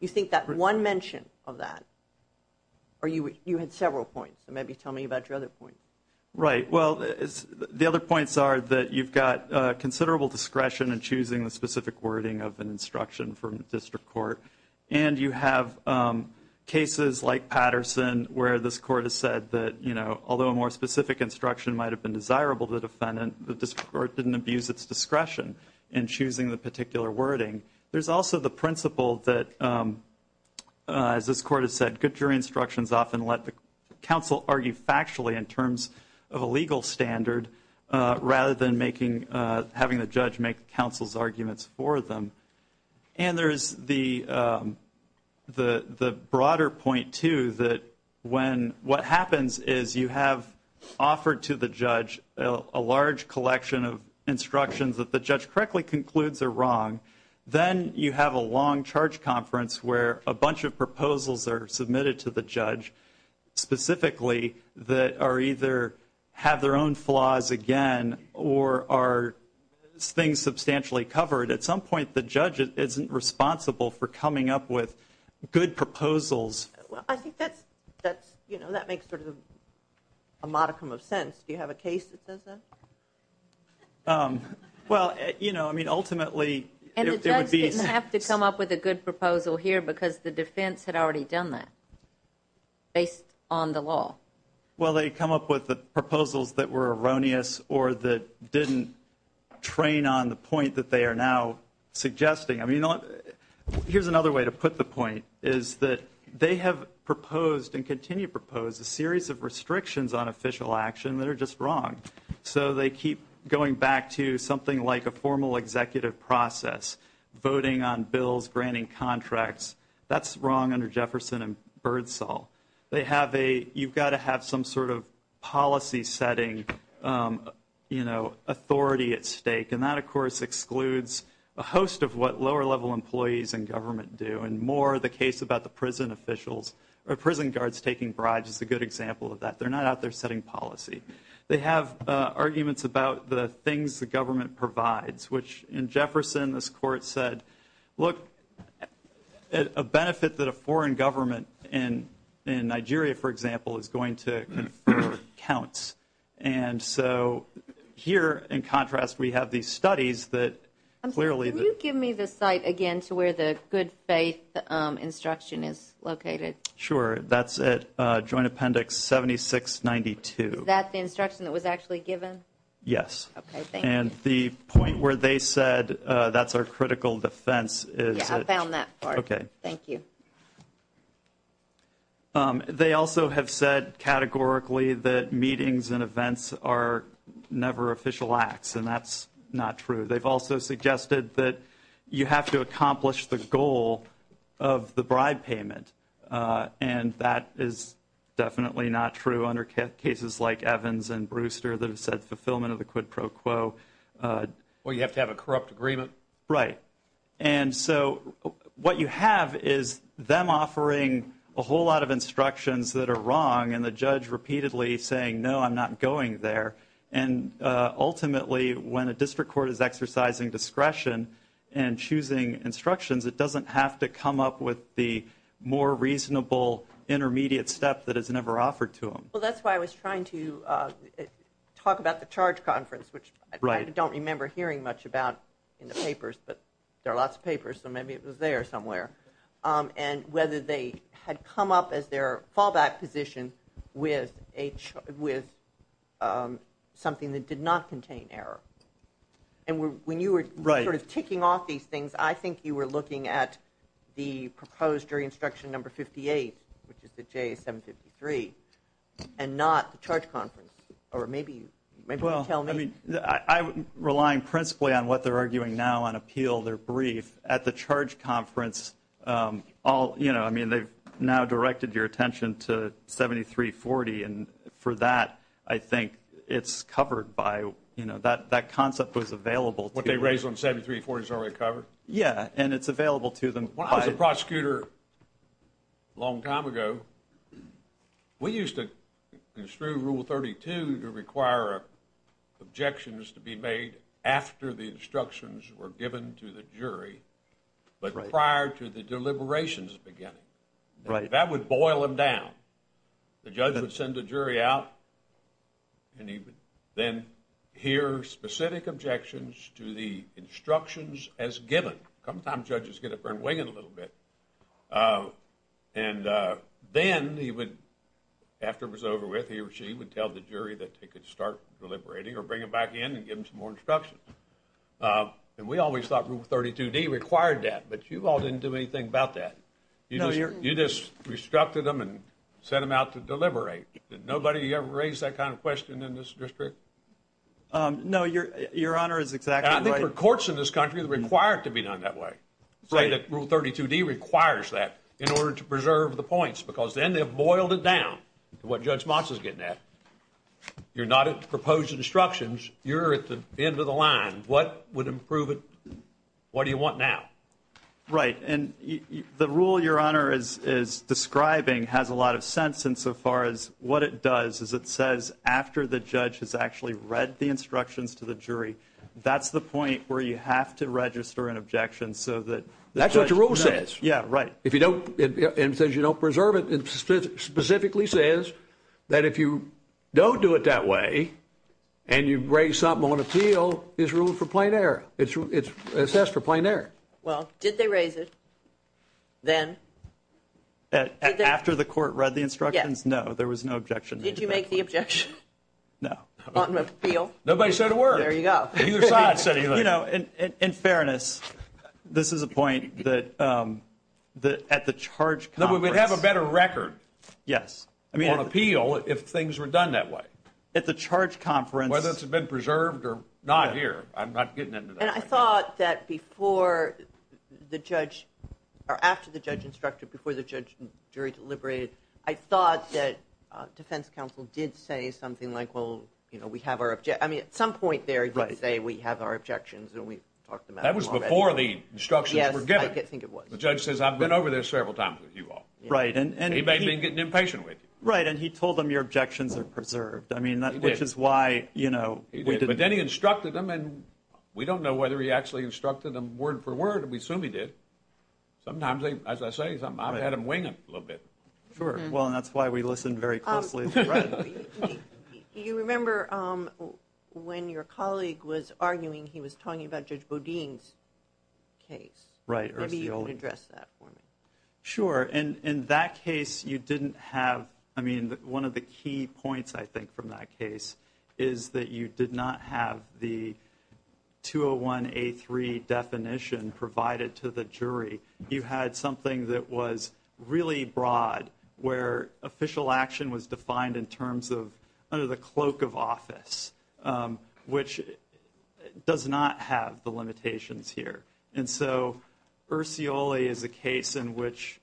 you think that one mention of that, or you had several points, so maybe tell me about your other points. Right. Well, the other points are that you've got considerable discretion in choosing the specific wording of an instruction from the district court, and you have cases like Patterson where this court has said that, you know, although a more specific instruction might have been desirable to the defendant, the district court didn't abuse its discretion in choosing the particular wording. There's also the principle that, as this court has said, often let the counsel argue factually in terms of a legal standard rather than making, having the judge make counsel's arguments for them. And there's the broader point, too, that when what happens is you have offered to the judge a large collection of instructions that the judge correctly concludes are wrong. Then you have a long charge conference where a bunch of proposals are submitted to the judge, specifically that are either have their own flaws again or are things substantially covered. At some point the judge isn't responsible for coming up with good proposals. Well, I think that's, you know, that makes sort of a modicum of sense. Do you have a case that says that? Well, you know, I mean, ultimately it would be. And the judge didn't have to come up with a good proposal here because the defense had already done that based on the law. Well, they come up with the proposals that were erroneous or that didn't train on the point that they are now suggesting. I mean, here's another way to put the point is that they have proposed and continue to propose a series of restrictions on official action that are just wrong. So they keep going back to something like a formal executive process, voting on bills, granting contracts. That's wrong under Jefferson and Birdsall. They have a, you've got to have some sort of policy setting, you know, authority at stake. And that, of course, excludes a host of what lower level employees in government do, and more the case about the prison officials or prison guards taking bribes is a good example of that. They're not out there setting policy. They have arguments about the things the government provides, which in Jefferson, this court said, look, a benefit that a foreign government in Nigeria, for example, is going to confer counts. And so here, in contrast, we have these studies that clearly. Can you give me the site again to where the good faith instruction is located? Sure, that's at Joint Appendix 7692. Is that the instruction that was actually given? Yes. Okay, thank you. And the point where they said that's our critical defense is. Yeah, I found that part. Okay. Thank you. They also have said categorically that meetings and events are never official acts, and that's not true. They've also suggested that you have to accomplish the goal of the bribe payment, and that is definitely not true under cases like Evans and Brewster that have said fulfillment of the quid pro quo. Well, you have to have a corrupt agreement. Right. And so what you have is them offering a whole lot of instructions that are wrong, and the judge repeatedly saying, no, I'm not going there. And ultimately, when a district court is exercising discretion and choosing instructions, it doesn't have to come up with the more reasonable intermediate step that is never offered to them. Well, that's why I was trying to talk about the charge conference, which I don't remember hearing much about in the papers, but there are lots of papers, so maybe it was there somewhere, and whether they had come up as their fallback position with something that did not contain error. And when you were sort of ticking off these things, I think you were looking at the proposed jury instruction number 58, which is the J753, and not the charge conference, or maybe you can tell me. Well, I'm relying principally on what they're arguing now on appeal. They're brief. At the charge conference, I mean, they've now directed your attention to 7340, and for that, I think it's covered by, you know, that concept was available. What they raised on 7340 is already covered? Yeah, and it's available to them. When I was a prosecutor a long time ago, we used to construe Rule 32 to require objections to be made after the instructions were given to the jury, but prior to the deliberations beginning. Right. That would boil them down. The judge would send the jury out, and he would then hear specific objections to the instructions as given. Sometimes judges get up there and wing it a little bit, and then he would, after it was over with, he or she would tell the jury that they could start deliberating or bring them back in and give them some more instructions, and we always thought Rule 32D required that, but you all didn't do anything about that. You just restructured them and sent them out to deliberate. Did nobody ever raise that kind of question in this district? No, Your Honor is exactly right. I think for courts in this country, they're required to be done that way, say that Rule 32D requires that in order to preserve the points, because then they've boiled it down to what Judge Moss is getting at. You're not at proposed instructions. You're at the end of the line. What would improve it? What do you want now? Right, and the rule Your Honor is describing has a lot of sense insofar as what it does is it says after the judge has actually read the instructions to the jury, that's the point where you have to register an objection so that the judge knows. That's what the rule says. Yeah, right. If you don't preserve it, it specifically says that if you don't do it that way and you raise something on appeal, it's ruled for plain error. It's assessed for plain error. Well, did they raise it then? After the court read the instructions? Yes. No, there was no objection. Did you make the objection? No. On appeal? Nobody said a word. There you go. Neither side said anything. You know, in fairness, this is a point that at the charge conference. No, but we'd have a better record. Yes. On appeal if things were done that way. At the charge conference. Whether it's been preserved or not here. I'm not getting into that right now. And I thought that before the judge or after the judge instructed, before the jury deliberated, I thought that defense counsel did say something like, well, you know, we have our objections. I mean, at some point there he did say we have our objections, and we talked about them already. That was before the instructions were given. Yes, I think it was. The judge says I've been over there several times with you all. Right. And he may have been getting impatient with you. Right, and he told them your objections are preserved. He did. Which is why, you know. He did. But then he instructed them, and we don't know whether he actually instructed them word for word. We assume he did. Sometimes, as I say, I've had them wing him a little bit. Sure. Well, and that's why we listen very closely. Right. You remember when your colleague was arguing, he was talking about Judge Bodine's case. Right. Maybe you can address that for me. Sure. And in that case you didn't have, I mean, one of the key points, I think, from that case, is that you did not have the 201A3 definition provided to the jury. You had something that was really broad, where official action was defined in terms of under the cloak of office, which does not have the limitations here. And so Ursioli is a case in which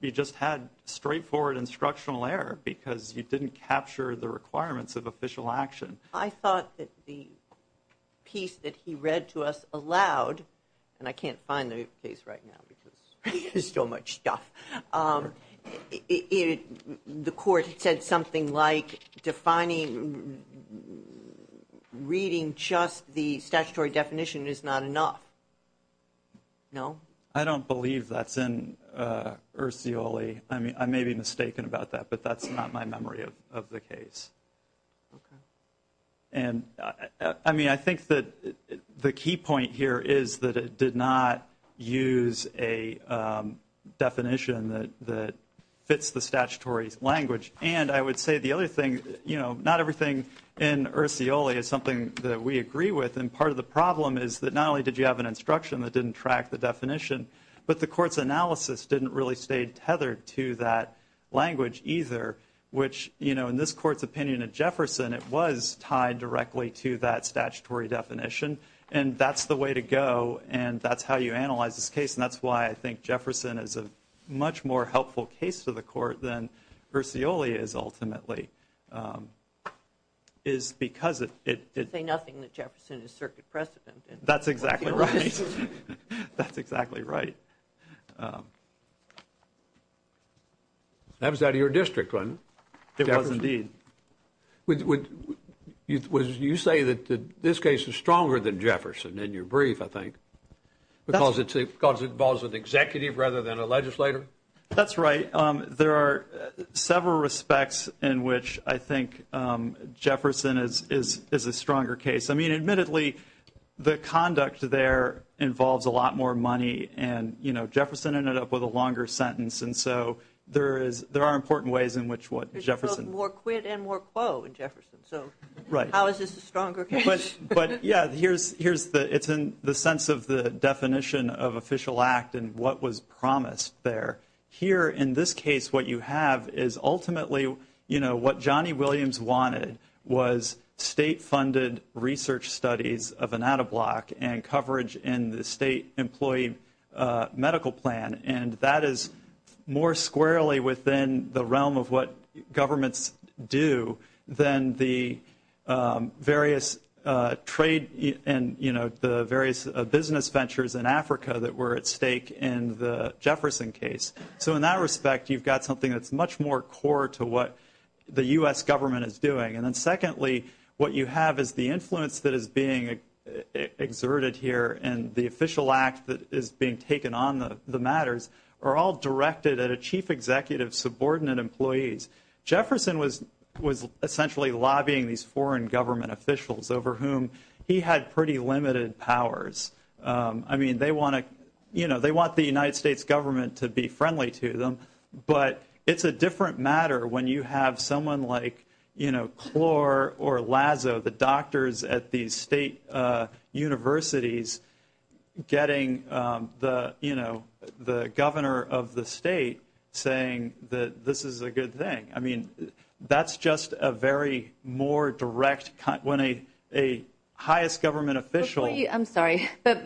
you just had straightforward instructional error because you didn't capture the requirements of official action. I thought that the piece that he read to us aloud, and I can't find the case right now because there's so much stuff, the court said something like defining reading just the statutory definition is not enough. No? I don't believe that's in Ursioli. I may be mistaken about that, but that's not my memory of the case. Okay. I mean, I think that the key point here is that it did not use a definition that fits the statutory language. And I would say the other thing, you know, not everything in Ursioli is something that we agree with, and part of the problem is that not only did you have an instruction that didn't track the definition, but the court's analysis didn't really stay tethered to that language either, which, you know, in this court's opinion at Jefferson, it was tied directly to that statutory definition. And that's the way to go, and that's how you analyze this case, and that's why I think Jefferson is a much more helpful case to the court than Ursioli is ultimately, is because of it. You say nothing that Jefferson is circuit precedent. That's exactly right. That's exactly right. That was out of your district, wasn't it? It was indeed. You say that this case is stronger than Jefferson in your brief, I think, because it involves an executive rather than a legislator? That's right. There are several respects in which I think Jefferson is a stronger case. I mean, admittedly, the conduct there involves a lot more money, and, you know, Jefferson ended up with a longer sentence, and so there are important ways in which what Jefferson. There's both more quit and more quo in Jefferson, so how is this a stronger case? But, yeah, it's in the sense of the definition of official act and what was promised there. Here, in this case, what you have is ultimately, you know, what Johnny Williams wanted was state-funded research studies of an out-of-block and coverage in the state employee medical plan, and that is more squarely within the realm of what governments do than the various trade and, you know, the various business ventures in Africa that were at stake in the Jefferson case. So in that respect, you've got something that's much more core to what the U.S. government is doing. And then, secondly, what you have is the influence that is being exerted here and the official act that is being taken on the matters are all directed at a chief executive's subordinate employees. Jefferson was essentially lobbying these foreign government officials over whom he had pretty limited powers. I mean, they want to, you know, they want the United States government to be friendly to them, but it's a different matter when you have someone like, you know, Clore or Lazo, the doctors at these state universities, getting the, you know, the governor of the state saying that this is a good thing. I mean, that's just a very more direct, when a highest government official I'm sorry, but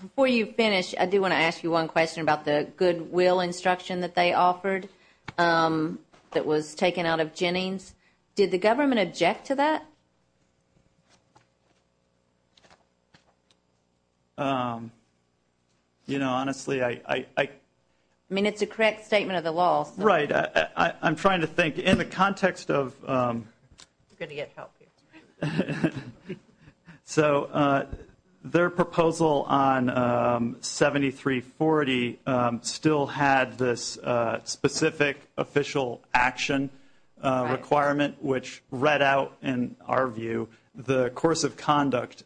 before you finish, I do want to ask you one question about the goodwill instruction that they offered that was taken out of Jennings. Did the government object to that? You know, honestly, I I mean, it's a correct statement of the law. Right, I'm trying to think. In the context of I'm going to get help here. So their proposal on 7340 still had this specific official action requirement, which read out, in our view, the course of conduct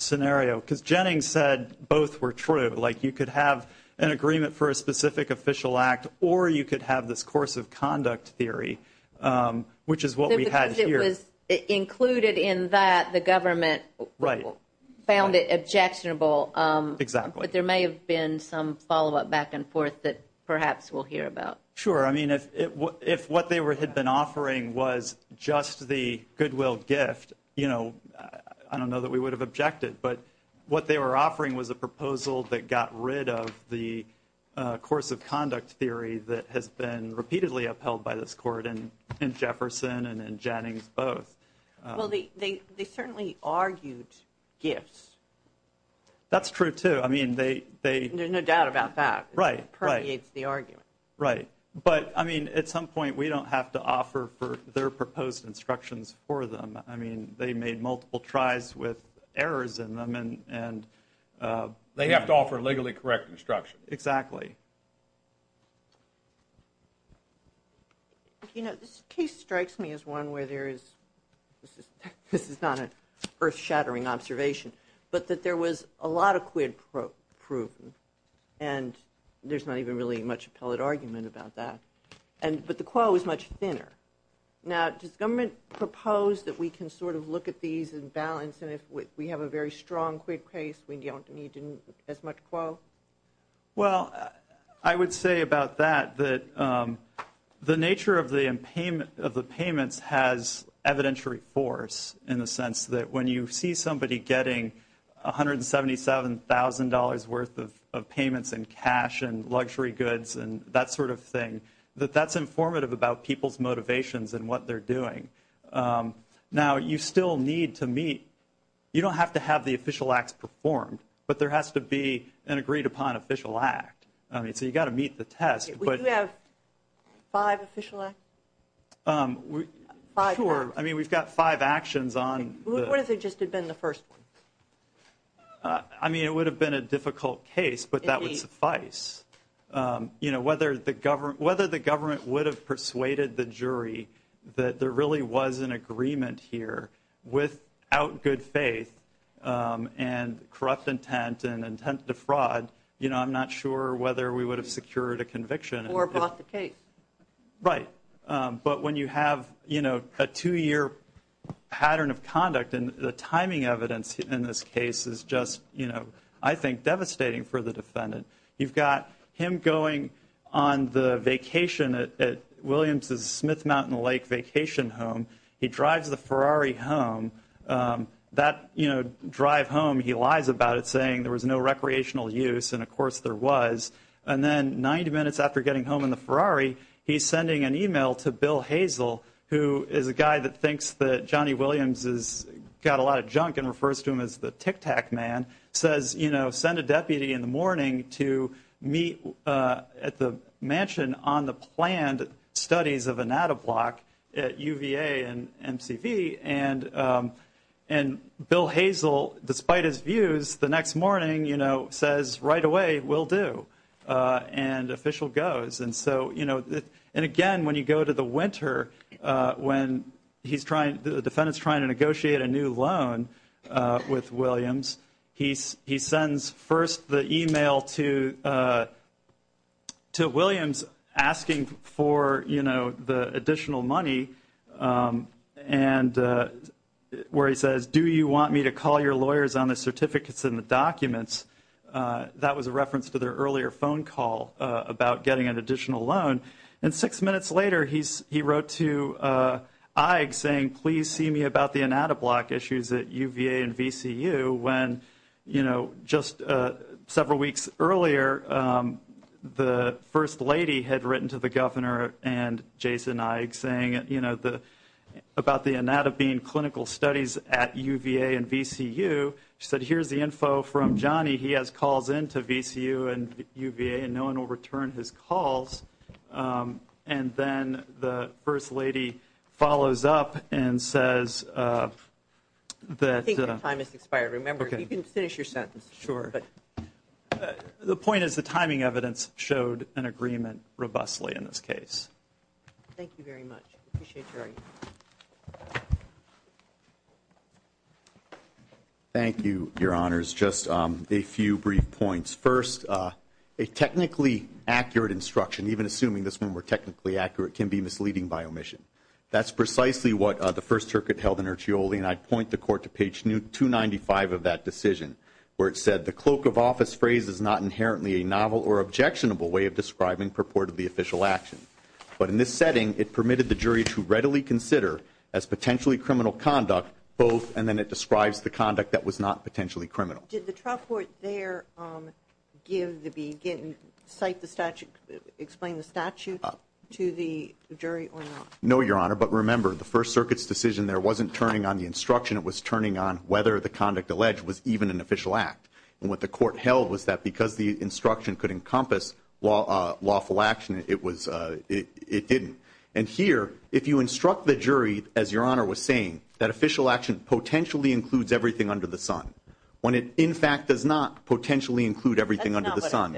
scenario, because Jennings said both were true. Like you could have an agreement for a specific official act or you could have this course of conduct theory, which is what we had here. It was included in that the government. Right. Found it objectionable. Exactly. But there may have been some follow up back and forth that perhaps we'll hear about. Sure. I mean, if what they had been offering was just the goodwill gift, you know, I don't know that we would have objected, but what they were offering was a proposal that got rid of the course of conduct theory that has been repeatedly upheld by this court and in Jefferson and in Jennings. Both. Well, they certainly argued gifts. That's true, too. I mean, they they no doubt about that. Right. Right. It's the argument. Right. But I mean, at some point, we don't have to offer for their proposed instructions for them. I mean, they made multiple tries with errors in them. And they have to offer legally correct instruction. Exactly. You know, this case strikes me as one where there is this is not an earth shattering observation, but that there was a lot of quid proven. And there's not even really much appellate argument about that. And but the quo is much thinner. Now, does government propose that we can sort of look at these in balance? And if we have a very strong quick case, we don't need as much quo. Well, I would say about that, that the nature of the payment of the payments has evidentiary force in the sense that when you see somebody getting $177,000 worth of payments in cash and luxury goods and that sort of thing, that that's informative about people's motivations and what they're doing. Now, you still need to meet. You don't have to have the official acts performed, but there has to be an agreed upon official act. I mean, so you've got to meet the test. Do you have five official acts? Sure. I mean, we've got five actions on. What if it just had been the first one? I mean, it would have been a difficult case, but that would suffice. You know, whether the government would have persuaded the jury that there really was an agreement here without good faith and corrupt intent and intent to fraud, you know, I'm not sure whether we would have secured a conviction. Or bought the case. Right. But when you have, you know, a two-year pattern of conduct and the timing evidence in this case is just, you know, I think devastating for the defendant. You've got him going on the vacation at Williams' Smith Mountain Lake vacation home. He drives the Ferrari home. That, you know, drive home, he lies about it, saying there was no recreational use. And, of course, there was. And then 90 minutes after getting home in the Ferrari, he's sending an e-mail to Bill Hazel, who is a guy that thinks that Johnny Williams has got a lot of junk and refers to him as the Tic Tac Man, says, you know, send a deputy in the morning to meet at the mansion on the planned studies of a NADA block at UVA and MCV. And Bill Hazel, despite his views, the next morning, you know, says right away, will do. And official goes. And so, you know, and again, when you go to the winter, when he's trying, the defendant's trying to negotiate a new loan with Williams, he sends first the e-mail to Williams asking for, you know, the additional money and where he says, do you want me to call your lawyers on the certificates and the documents? That was a reference to their earlier phone call about getting an additional loan. And six minutes later, he wrote to Ike saying, please see me about the NADA block issues at UVA and VCU when, you know, just several weeks earlier, the first lady had written to the governor and Jason Ike saying, you know, about the NADA being clinical studies at UVA and VCU. She said, here's the info from Johnny. He has calls in to VCU and UVA and no one will return his calls. And then the first lady follows up and says that. I think your time has expired. Remember, you can finish your sentence. Sure. The point is the timing evidence showed an agreement robustly in this case. Thank you very much. Appreciate your argument. Thank you, Your Honors. Just a few brief points. First, a technically accurate instruction, even assuming this one were technically accurate, can be misleading by omission. That's precisely what the first circuit held in Erchioli, and I'd point the court to page 295 of that decision, where it said the cloak of office phrase is not inherently a novel or objectionable way of describing purportedly official action. But in this setting, it permitted the jury to readily consider as potentially criminal conduct both, and then it describes the conduct that was not potentially criminal. Did the trial court there give the beginning, cite the statute, explain the statute to the jury or not? No, Your Honor. But remember, the first circuit's decision there wasn't turning on the instruction. It was turning on whether the conduct alleged was even an official act. And what the court held was that because the instruction could encompass lawful action, it didn't. And here, if you instruct the jury, as Your Honor was saying, that official action potentially includes everything under the sun, when it in fact does not potentially include everything under the sun,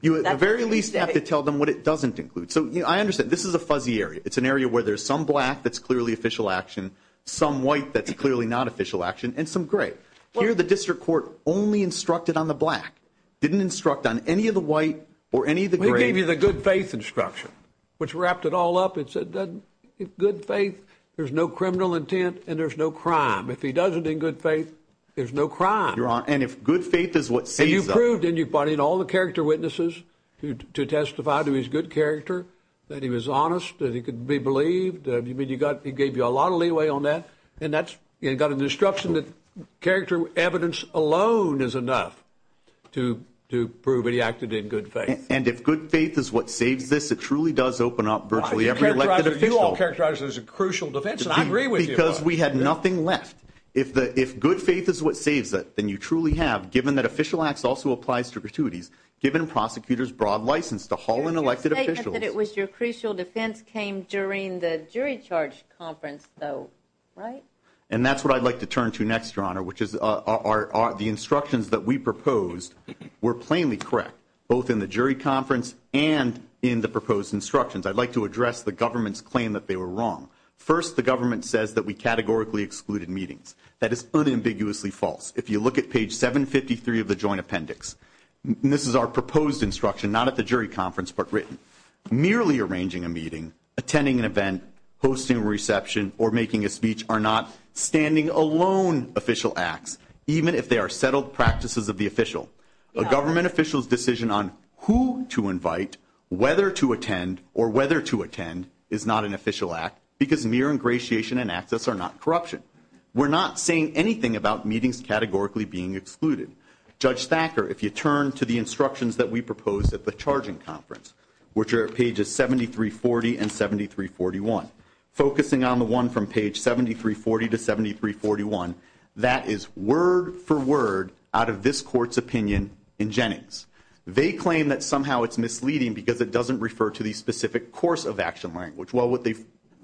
you at the very least have to tell them what it doesn't include. So I understand. This is a fuzzy area. It's an area where there's some black that's clearly official action, some white that's clearly not official action, and some gray. Here, the district court only instructed on the black, didn't instruct on any of the white or any of the gray. It gave you the good faith instruction, which wrapped it all up. It said if good faith, there's no criminal intent and there's no crime. If he does it in good faith, there's no crime. Your Honor, and if good faith is what sees them. And you proved, didn't you, buddy, in all the character witnesses to testify to his good character that he was honest, that he could be believed. You mean he gave you a lot of leeway on that? And that's got an instruction that character evidence alone is enough to prove that he acted in good faith. And if good faith is what saves this, it truly does open up virtually every elected official. You all characterize it as a crucial defense, and I agree with you. Because we had nothing left. If good faith is what saves it, then you truly have, given that official acts also applies to gratuities, given prosecutors broad license to haul in elected officials. Your statement that it was your crucial defense came during the jury charge conference, though, right? And that's what I'd like to turn to next, Your Honor, which is the instructions that we proposed were plainly correct, both in the jury conference and in the proposed instructions. I'd like to address the government's claim that they were wrong. First, the government says that we categorically excluded meetings. That is unambiguously false. If you look at page 753 of the joint appendix, this is our proposed instruction, not at the jury conference, but written. Merely arranging a meeting, attending an event, hosting a reception, or making a speech are not standing alone official acts, even if they are settled practices of the official. A government official's decision on who to invite, whether to attend, or whether to attend is not an official act because mere ingratiation and access are not corruption. We're not saying anything about meetings categorically being excluded. Judge Thacker, if you turn to the instructions that we proposed at the charging conference, which are pages 7340 and 7341, focusing on the one from page 7340 to 7341, that is word for word out of this court's opinion in Jennings. They claim that somehow it's misleading because it doesn't refer to the specific course of action language. Well, what they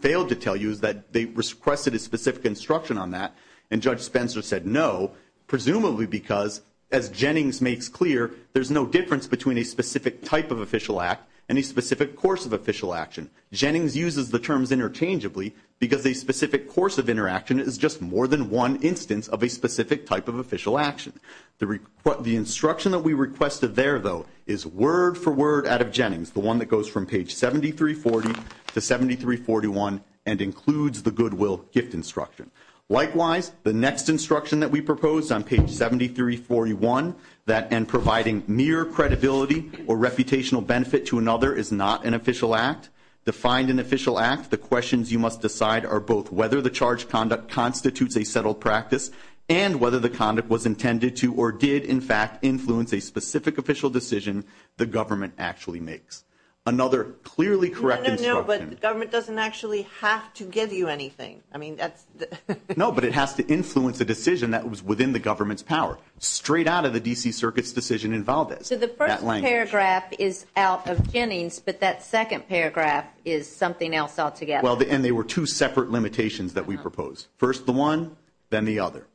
failed to tell you is that they requested a specific instruction on that, and Judge Spencer said no, presumably because, as Jennings makes clear, there's no difference between a specific type of official act and a specific course of official action. Jennings uses the terms interchangeably because a specific course of interaction is just more than one instance of a specific type of official action. The instruction that we requested there, though, is word for word out of Jennings, the one that goes from page 7340 to 7341 and includes the goodwill gift instruction. Likewise, the next instruction that we proposed on page 7341, that in providing mere credibility or reputational benefit to another is not an official act. Defined an official act, the questions you must decide are both whether the charge conduct constitutes a settled practice and whether the conduct was intended to or did, in fact, influence a specific official decision the government actually makes. Another clearly correct instruction. No, no, no, but the government doesn't actually have to give you anything. I mean, that's the... No, but it has to influence a decision that was within the government's power, straight out of the D.C. Circuit's decision in Valdez. So the first paragraph is out of Jennings, but that second paragraph is something else altogether. Well, and they were two separate limitations that we proposed. First the one, then the other.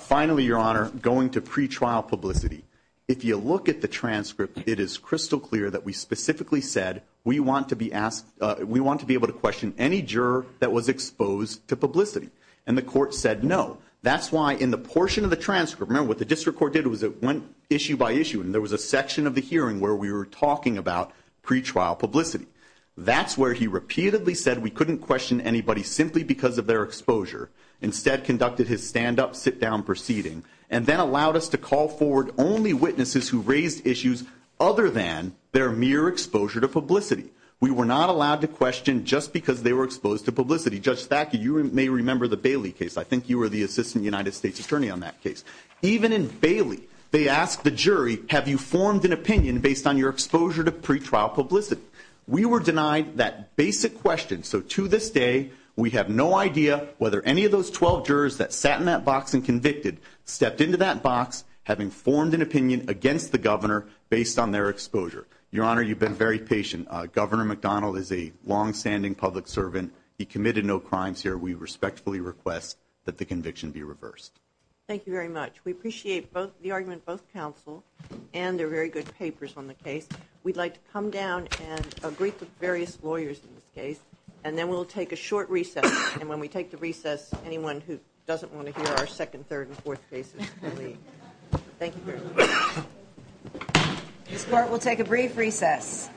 Finally, Your Honor, going to pretrial publicity, if you look at the transcript, it is crystal clear that we specifically said we want to be able to question any juror that was exposed to publicity. And the court said no. That's why in the portion of the transcript, remember what the district court did was it went issue by issue, and there was a section of the hearing where we were talking about pretrial publicity. That's where he repeatedly said we couldn't question anybody simply because of their exposure. Instead, conducted his stand-up, sit-down proceeding, and then allowed us to call forward only witnesses who raised issues other than their mere exposure to publicity. We were not allowed to question just because they were exposed to publicity. Judge Thackett, you may remember the Bailey case. I think you were the assistant United States attorney on that case. Even in Bailey, they asked the jury, have you formed an opinion based on your exposure to pretrial publicity? We were denied that basic question. So to this day, we have no idea whether any of those 12 jurors that sat in that box and convicted stepped into that box having formed an opinion against the governor based on their exposure. Your Honor, you've been very patient. Governor McDonald is a longstanding public servant. He committed no crimes here. We respectfully request that the conviction be reversed. Thank you very much. We appreciate the argument both counsel and the very good papers on the case. We'd like to come down and greet the various lawyers in this case, and then we'll take a short recess. And when we take the recess, anyone who doesn't want to hear our second, third, and fourth cases can leave. Thank you very much. This court will take a brief recess.